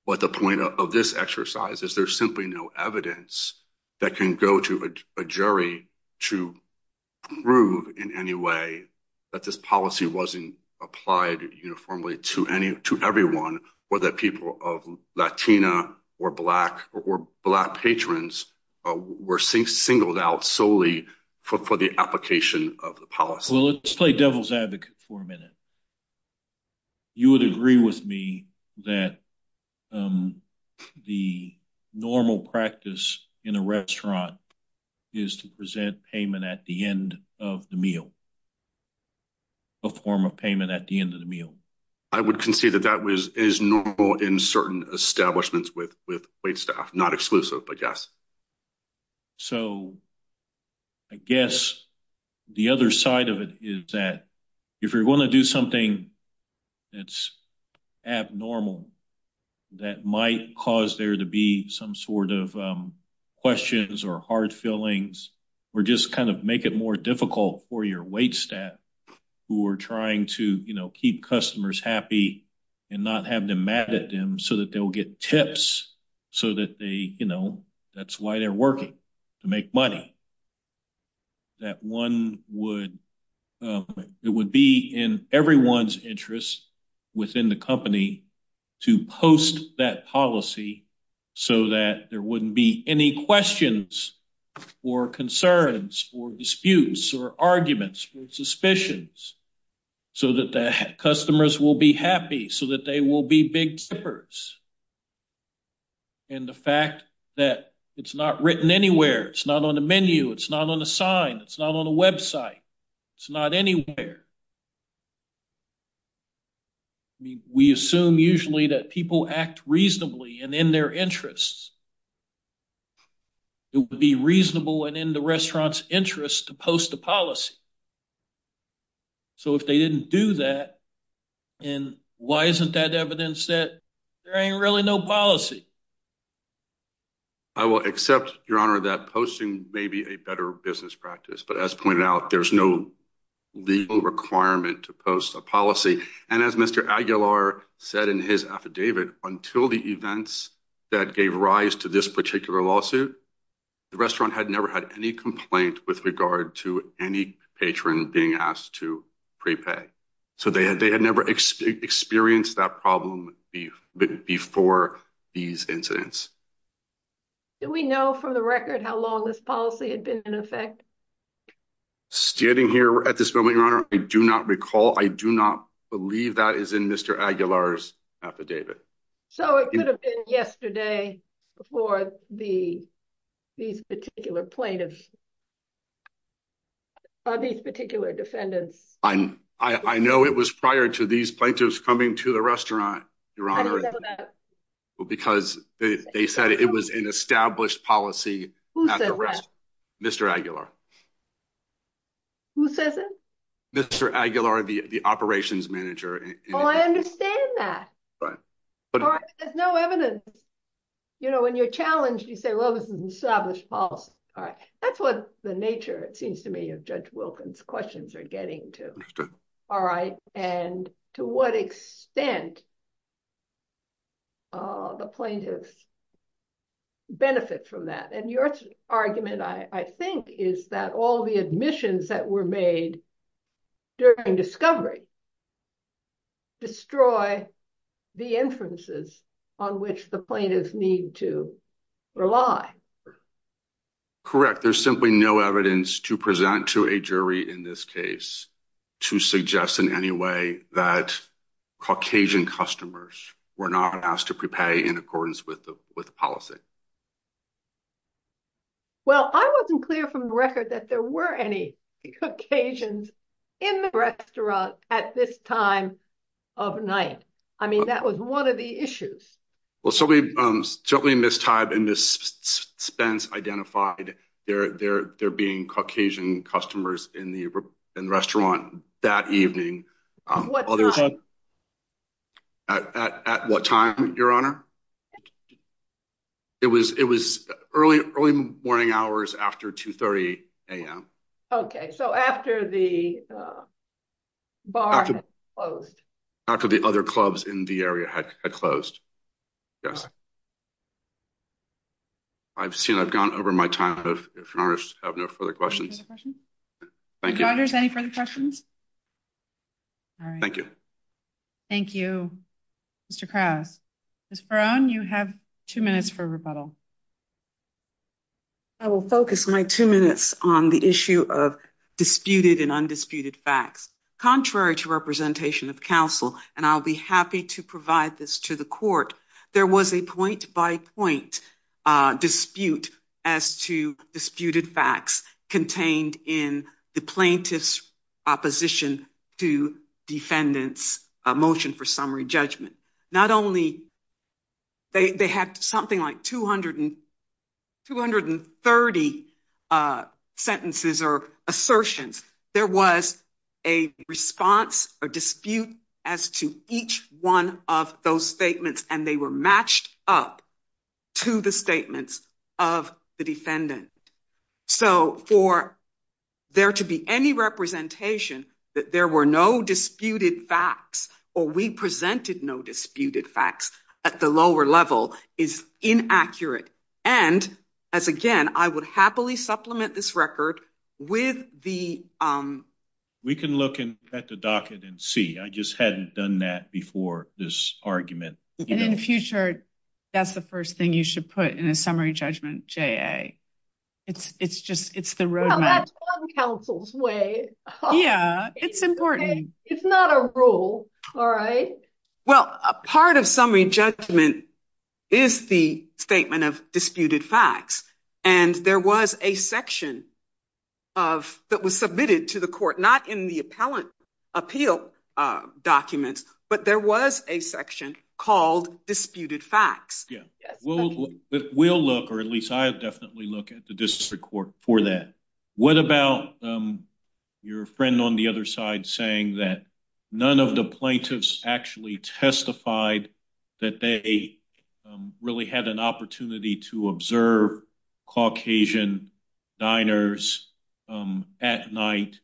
But the point of this exercise is there's simply no evidence that can go to a jury to prove in any way that this policy wasn't applied uniformly to everyone or that people of Latina or black or black patrons were singled out solely for the application of the policy. Well, let's play devil's advocate for a minute. You would agree with me that the normal practice in a restaurant is to present payment at the end of the meal, a form of payment at the end of the meal? I would concede that that is normal in certain establishments with white staff, not exclusive, I guess. So, I guess the other side of it is that if you're going to do something that's abnormal, that might cause there to be some sort of questions or hard feelings or just kind of make it more difficult for your white staff who are trying to, you know, keep customers happy and not have them mad at them so that they will get tips so that they, you know, that's why they're working to make money. That one would, it would be in everyone's interest within the company to post that policy so that there wouldn't be any questions or concerns or disputes or arguments or suspicions so that the customers will be happy, so that they will be big givers. And the fact that it's not written anywhere, it's not on the menu, it's not on the sign, it's not on the website, it's not anywhere. We assume usually that people act reasonably and in their interests. It would be reasonable and in the restaurant's interest to post the policy. So, if they didn't do that, then why isn't that evidence that there ain't really no policy? I will accept, Your Honor, that posting may be a better business practice, but as pointed out, there's no legal requirement to post a policy. And as Mr. Aguilar said in his affidavit, until the events that gave rise to this particular lawsuit, the restaurant had never had any complaint with regard to any patron being asked to prepay. So, they had never experienced that problem before these incidents. Do we know from the record how long this policy had been in effect? Standing here at this moment, Your Honor, I do not recall, I do not believe that is in Mr. Aguilar's affidavit. So, it could have been yesterday before these particular plaintiffs, by these particular defendants. I know it was prior to these plaintiffs coming to the restaurant, Your Honor, because they said it was an established policy. Who said that? Mr. Aguilar. Who says it? Mr. Aguilar, the operations manager. Oh, I understand that. But there's no evidence. You know, when you're challenged, you say, well, this is an established policy. All right. That's what the nature, it seems to me, of Judge Wilkins' questions are getting to. All right. And to what extent the plaintiffs benefit from that? And your argument, I think, is that all the admissions that were made during discovery destroy the inferences on which the plaintiffs need to rely. Correct. There's simply no evidence to present to a jury in this case to suggest in any way that Caucasian customers were not asked to pay in accordance with the policy. Well, I wasn't clear from the record that there were any Caucasians in the restaurant at all. At this time of night. I mean, that was one of the issues. Well, certainly in this time, and Ms. Spence identified there being Caucasian customers in the restaurant that evening. At what time, Your Honor? It was early morning hours after 2.30 a.m. Okay. So after the bar had closed. After the other clubs in the area had closed. Yes. I've seen, I've gone over my time. If Your Honors have no further questions. Thank you. Your Honors, any further questions? All right. Thank you. Thank you, Mr. Krause. Ms. Brown, you have two minutes for rebuttal. I will focus my two minutes on the issue of disputed and undisputed facts. Contrary to representation of counsel, and I'll be happy to provide this to the court, there was a point by point dispute as to disputed facts contained in the plaintiff's opposition to defendant's motion for summary judgment. Not only they had something like 230 sentences or assertions. There was a response or dispute as to each one of those statements, and they were matched up to the statements of the defendant. So for there to be any representation that there were no facts or we presented no disputed facts at the lower level is inaccurate. And as again, I would happily supplement this record with the... We can look at the docket and see. I just hadn't done that before this argument. In the future, that's the first thing you should put in a summary judgment, J.A. It's the road map. That's on counsel's way. Yeah, it's important. It's not a rule. All right. Well, a part of summary judgment is the statement of disputed facts, and there was a section that was submitted to the court, not in the appellate appeal documents, but there was a definitely look at the district court for that. What about your friend on the other side saying that none of the plaintiffs actually testified that they really had an opportunity to observe Caucasian diners at night,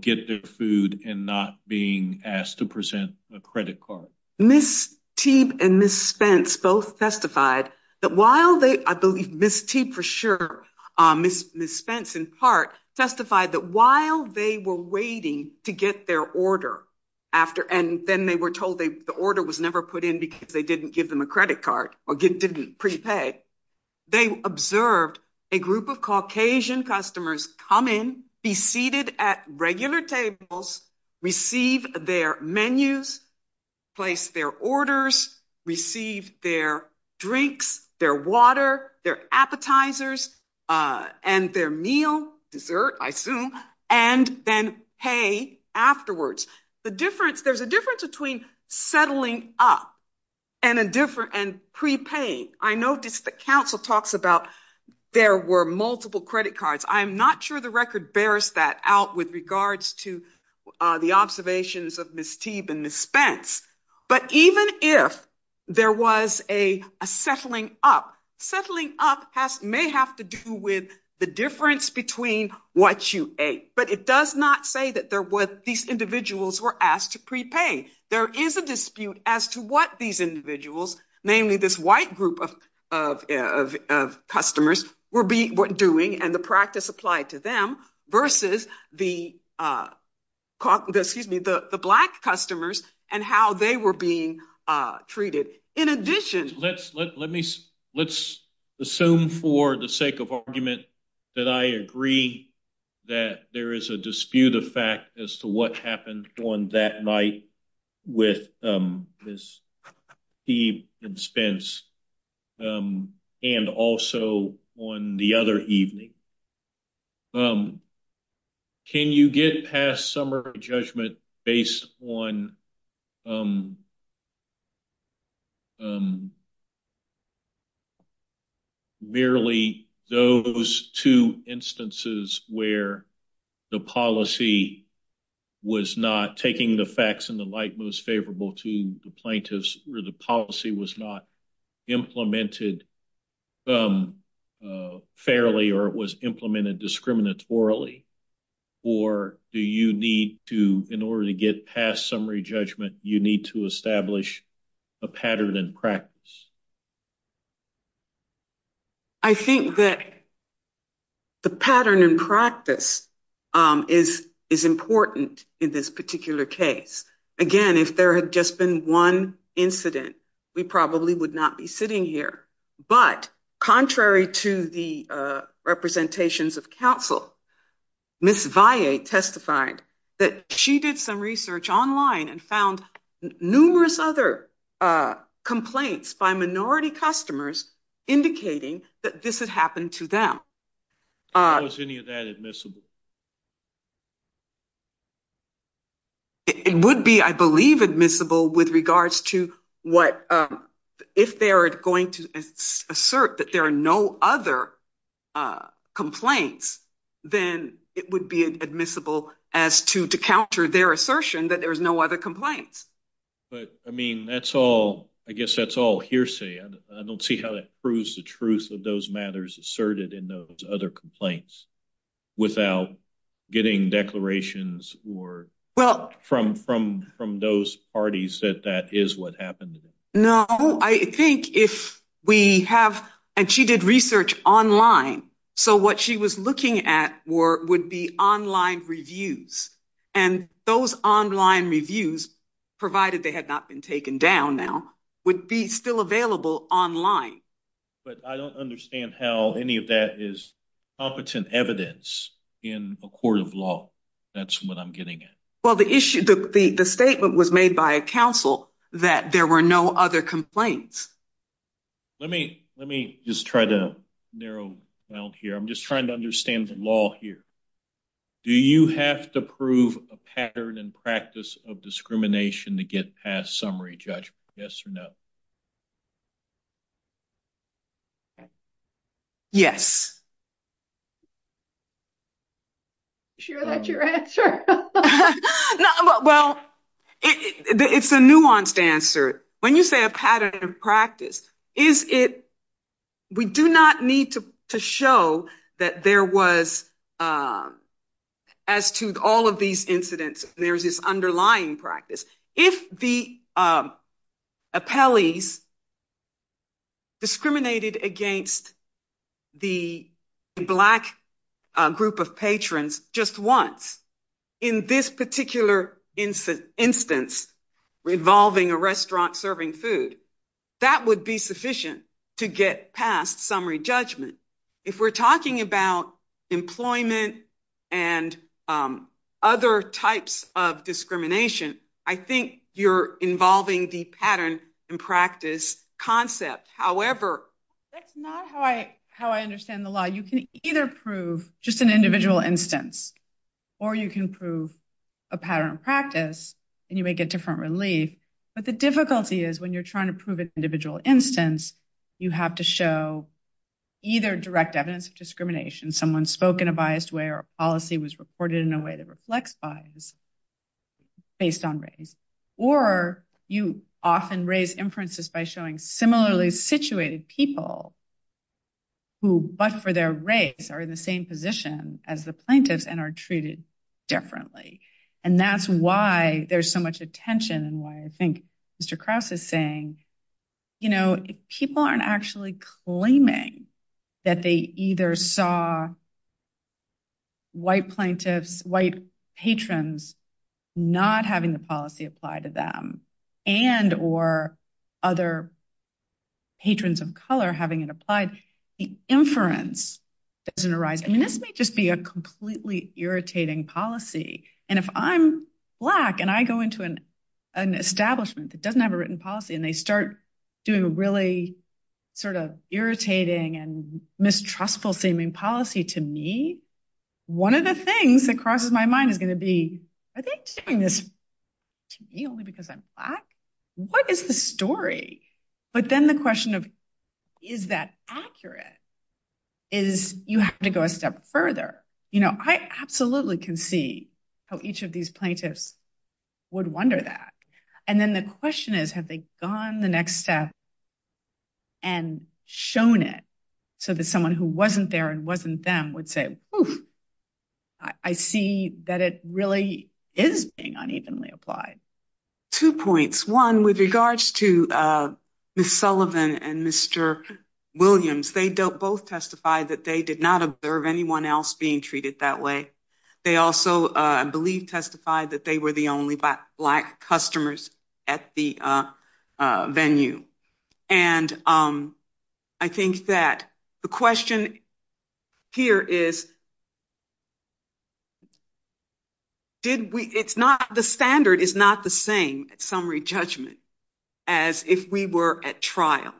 get their food and not being asked to present a credit card? Ms. Teeb and Ms. Spence both testified that while they... I believe Ms. Teeb for sure, Ms. Spence in part testified that while they were waiting to get their order, and then they were told the order was never put in because they didn't give them a credit card or didn't prepay, they observed a group of Caucasian customers come in, be seated at regular tables, receive their menus, place their orders, receive their drinks, their water, their appetizers, and their meal, dessert, I assume, and then pay afterwards. There's a difference between settling up and prepaying. I noticed that counsel talks about there were multiple credit cards. I'm not sure the record bears that out with regards to the observations of Ms. Teeb and Ms. Spence, but even if there was a settling up, settling up may have to do with the difference between what you ate, but it does not say that these individuals were asked to prepay. There is a dispute as to what these individuals, namely this white group of customers, were doing and the practice applied to them versus the Black customers and how they were being treated. In addition... Let's assume for the sake of argument that I agree that there is a dispute of fact as to what happened on that night with Ms. Teeb and Ms. Spence and also on the other evening. Can you get past summer judgment based on merely those two instances where the policy was not taking the facts and the light most implemented fairly or it was implemented discriminatorily, or do you need to, in order to get past summary judgment, you need to establish a pattern and practice? I think that the pattern and practice is important in this particular case. Again, if there had just been one incident, we probably would not be sitting here, but contrary to the representations of counsel, Ms. Viate testified that she did some research online and found numerous other complaints by minority customers indicating that this regards to what... If they're going to assert that there are no other complaints, then it would be admissible as to counter their assertion that there's no other complaints. But, I mean, that's all... I guess that's all hearsay. I don't see how that proves the truth of those matters asserted in those other complaints without getting declarations or from those parties that that is what happened. No, I think if we have... And she did research online, so what she was looking at would be online reviews. And those online reviews, provided they had not been taken down now, would be still available online. But I don't understand how any of that is competent evidence in a court of law. That's what I'm getting at. Well, the issue... The statement was made by a counsel that there were no other complaints. Let me just try to narrow down here. I'm just trying to understand the law here. Do you have to prove a pattern and practice of discrimination to get past summary judgment? Yes Yes. Sure, that's your answer. Well, it's a nuanced answer. When you say a pattern of practice, is it... We do not need to show that there was... As to all of these incidents, there's this underlying practice. If the the black group of patrons just once, in this particular instance, revolving a restaurant serving food, that would be sufficient to get past summary judgment. If we're talking about employment and other types of discrimination, I think you're involving the pattern and practice concept. However... That's not how I understand the law. You can either prove just an individual instance, or you can prove a pattern of practice, and you may get different relief. But the difficulty is when you're trying to prove an individual instance, you have to show either direct evidence of discrimination, someone spoke in a biased way or policy was reported in a way that reflects bias based on race. Or you often raise inferences by showing similarly situated people who, but for their race, are in the same position as the plaintiff and are treated differently. And that's why there's so much attention and why I think Mr. Krause is saying, people aren't actually claiming that they either saw white plaintiffs, white patrons, not having the policy applied to them, and or other patrons of color having it applied, the inference doesn't arise. I mean, this may just be a completely irritating policy. And if I'm black and I go into an establishment that doesn't have a written policy and they start doing really sort of irritating and mistrustful seeming policy to me, one of the things that crosses my mind is going to be, are they doing this to me only because I'm black? What is the story? But then the question of, is that accurate? Is you have to go a step further? I absolutely can see how each of these plaintiffs would wonder that. And then the question is, have they gone the next step and shown it so that someone who wasn't there and would say, I see that it really is being unevenly applied. Two points. One with regards to Ms. Sullivan and Mr. Williams, they don't both testify that they did not observe anyone else being treated that way. They also, I believe, testified that they were the only black customers at the venue. And I think that the question here is, the standard is not the same at summary judgment as if we were at trial.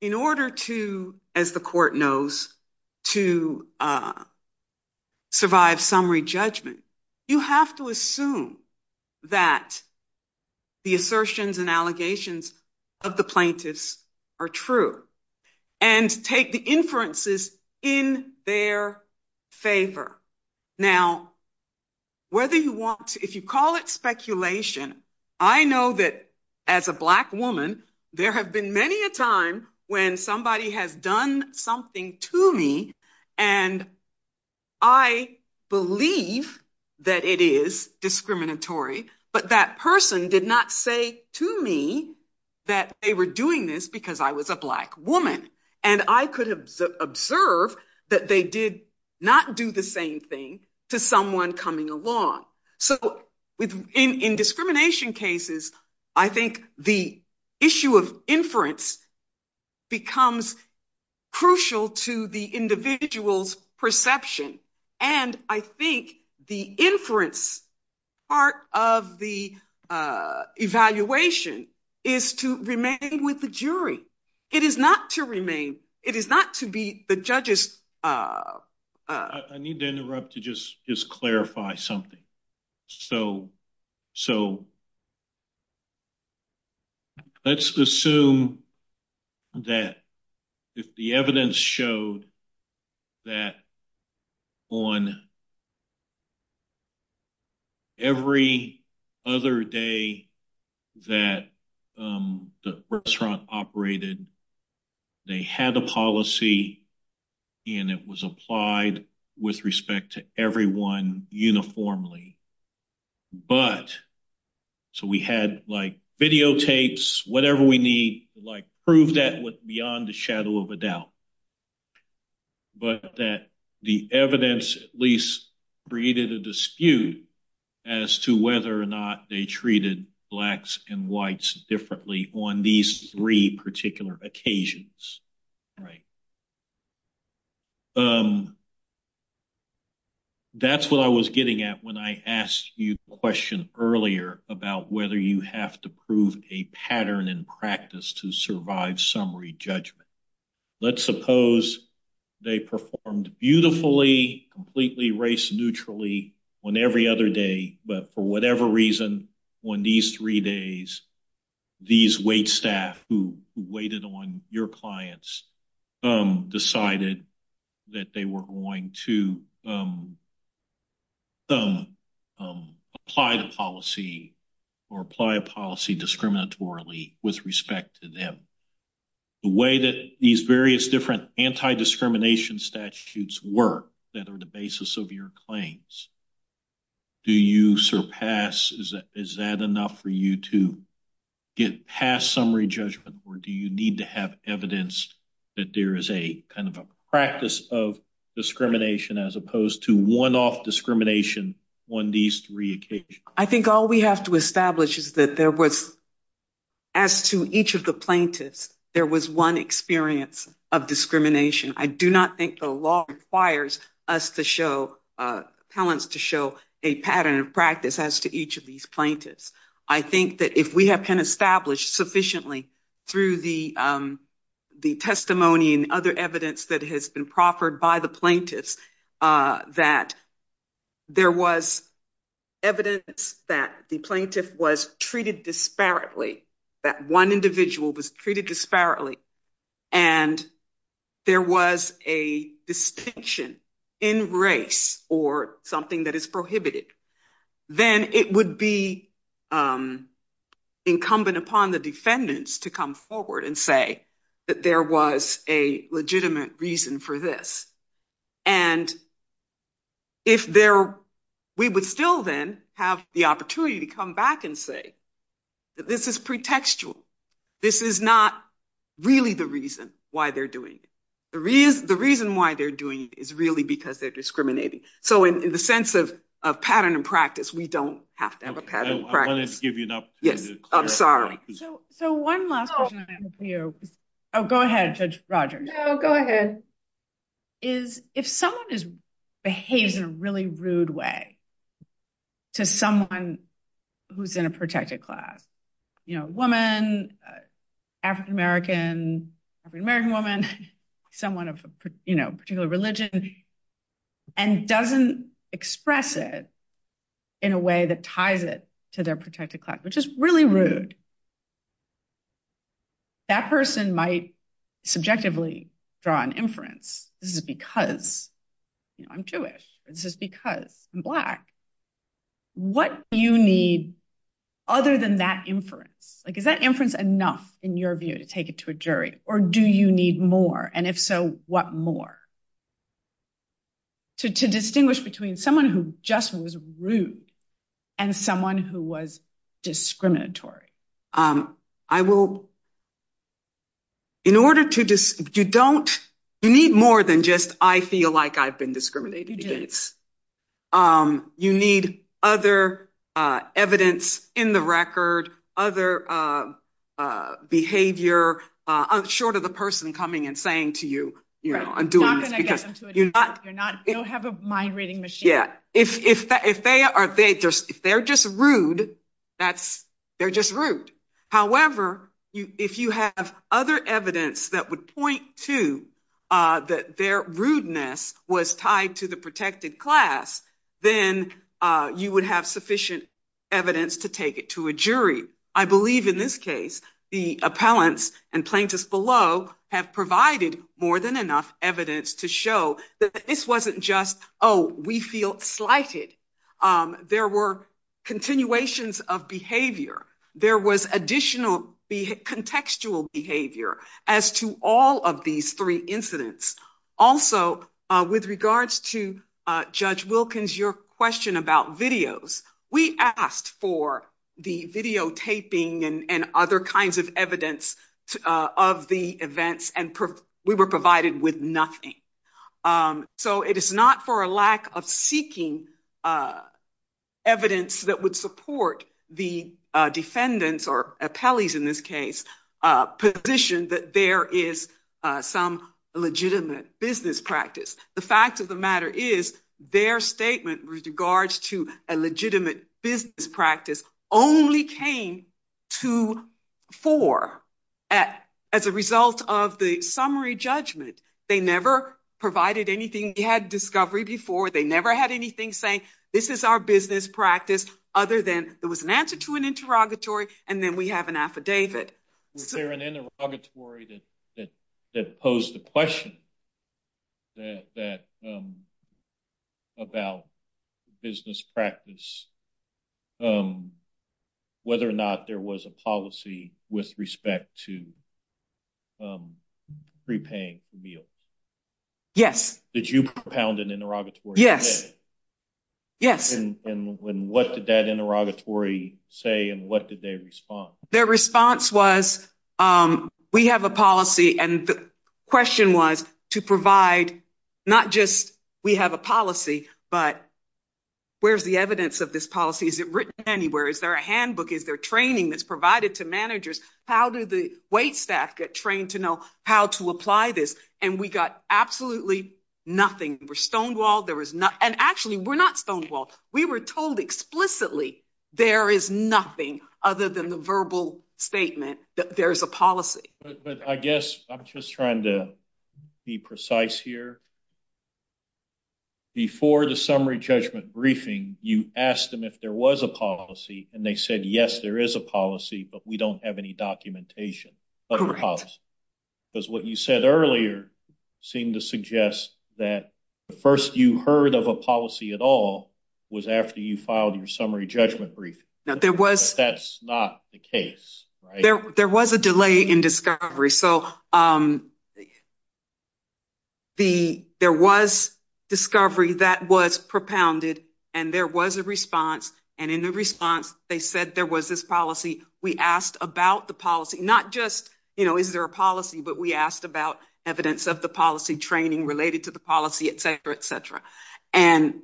In order to, as the court knows, to survive summary judgment, you have to assume that the assertions and allegations of the plaintiffs are true and take the inferences in their favor. Now, whether you want to, if you call it speculation, I know that as a black woman, there have been many a time when somebody has done something to me and I believe that it is discriminatory, but that person did not say to me that they were doing this because I was a black woman. And I could observe that they did not do the same thing to someone coming along. So in discrimination cases, I think the issue of inference becomes crucial to the individual's perception. And I think the inference part of the evaluation is to remain with the jury. It is not to remain. It is not to be the judge's... I need to interrupt to just clarify something. So let's assume that the evidence showed that on every other day that the restaurant operated, they had the policy and it was applied with respect to everyone uniformly. But, so we had like videotapes, whatever we need to like prove that was beyond the shadow of a doubt, but that the evidence at least created a dispute as to whether or not they treated blacks and whites differently on these three particular occasions. That's what I was getting at when I asked you a question earlier about whether you have to pattern and practice to survive summary judgment. Let's suppose they performed beautifully, completely race-neutrally on every other day, but for whatever reason, on these three days, these wait staff who waited on your clients decided that they were going to not apply the policy or apply a policy discriminatorily with respect to them. The way that these various different anti-discrimination statutes work that are the basis of your claims, do you surpass, is that enough for you to get past summary judgment, or do you need to have evidence that there is a kind of a practice of discrimination as opposed to one-off discrimination on these three occasions? I think all we have to establish is that there was, as to each of the plaintiffs, there was one experience of discrimination. I do not think the law requires us to show, appellants to show a pattern of practice as to each of these plaintiffs. I think that if we have been established sufficiently through the testimony and other evidence that has been proffered by the plaintiffs that there was evidence that the plaintiff was treated disparately, that one individual was treated disparately, and there was a distinction in race or something that is prohibited, then it would be incumbent upon the defendants to come forward and say that there was a legitimate reason for this. We would still then have the opportunity to come back and say that this is pretextual. This is not really the reason why they're doing it. The reason why they're doing it is really because they're discriminating. In the sense of pattern and practice, we don't have to have a pattern. I'm willing to give you that. Yes. I'm sorry. One last question I have for you. Go ahead, Judge Rogers. Go ahead. If someone just behaves in a really rude way to someone who's in a protected class, woman, African-American, African-American woman, someone of a particular religion, and doesn't express it in a way that ties it to their protected class, which is really rude, that person might subjectively draw an inference. This is because I'm Jewish. This is because I'm Black. What do you need other than that inference? Is that inference enough in your view to take it to a jury, or do you need more? If so, what more? To distinguish between someone who just was rude and someone who was discriminatory. You need more than just, I feel like I've been discriminated against. You need other evidence in the record, other behavior short of the person coming and saying to you, you know, I'm doing this. You don't have a mind reading machine. Yeah. If they're just rude, they're just rude. However, if you have other evidence that would then you would have sufficient evidence to take it to a jury. I believe in this case, the appellants and plaintiffs below have provided more than enough evidence to show that this wasn't just, oh, we feel slighted. There were continuations of behavior. There was additional contextual behavior as to all of these three incidents. Also, with regards to Judge Wilkins, your question about videos, we asked for the videotaping and other kinds of evidence of the events and we were provided with nothing. So, it is not for a lack of seeking evidence that would support the defendants or appellees in this case position that there is some legitimate business practice. The fact of the matter is their statement with regards to a legitimate business practice only came to fore as a result of the summary judgment. They never provided anything. They had discovery before. They never had anything saying this is our business practice other than there was an answer to an interrogatory and then we have an interrogatory that posed a question about business practice, whether or not there was a policy with respect to prepaying meals. Yes. Did you propound an interrogatory? Yes. And what did that interrogatory say and what did they respond? Their response was we have a policy and the question was to provide not just we have a policy, but where's the evidence of this policy? Is it written anywhere? Is there a handbook? Is there training that's provided to managers? How did the wait staff get trained to know how to apply this? And we got absolutely nothing. We're stonewalled. And actually, we're not stonewalled. We were told explicitly there is nothing other than the verbal statement that there's a policy. But I guess I'm just trying to be precise here. Before the summary judgment briefing, you asked them if there was a policy and they said, yes, there is a policy, but we don't have any documentation of the policy. Correct. Because what you said earlier seemed to suggest that the first you heard of a policy at all was after you filed your summary judgment brief. That's not the case. There was a delay in discovery. So there was discovery that was propounded and there was a response. And in the response, they said there was this policy. We asked about the policy, not just is there a policy, but we the policy, et cetera, et cetera. And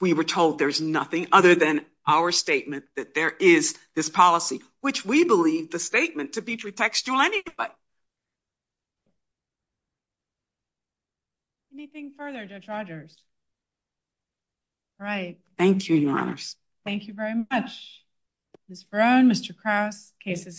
we were told there's nothing other than our statement that there is this policy, which we believe the statement to be true textual anyway. Anything further, Judge Rogers? All right. Thank you, Your Honor. Thank you very much. Mr. Brown, Mr. Cross, case is submitted.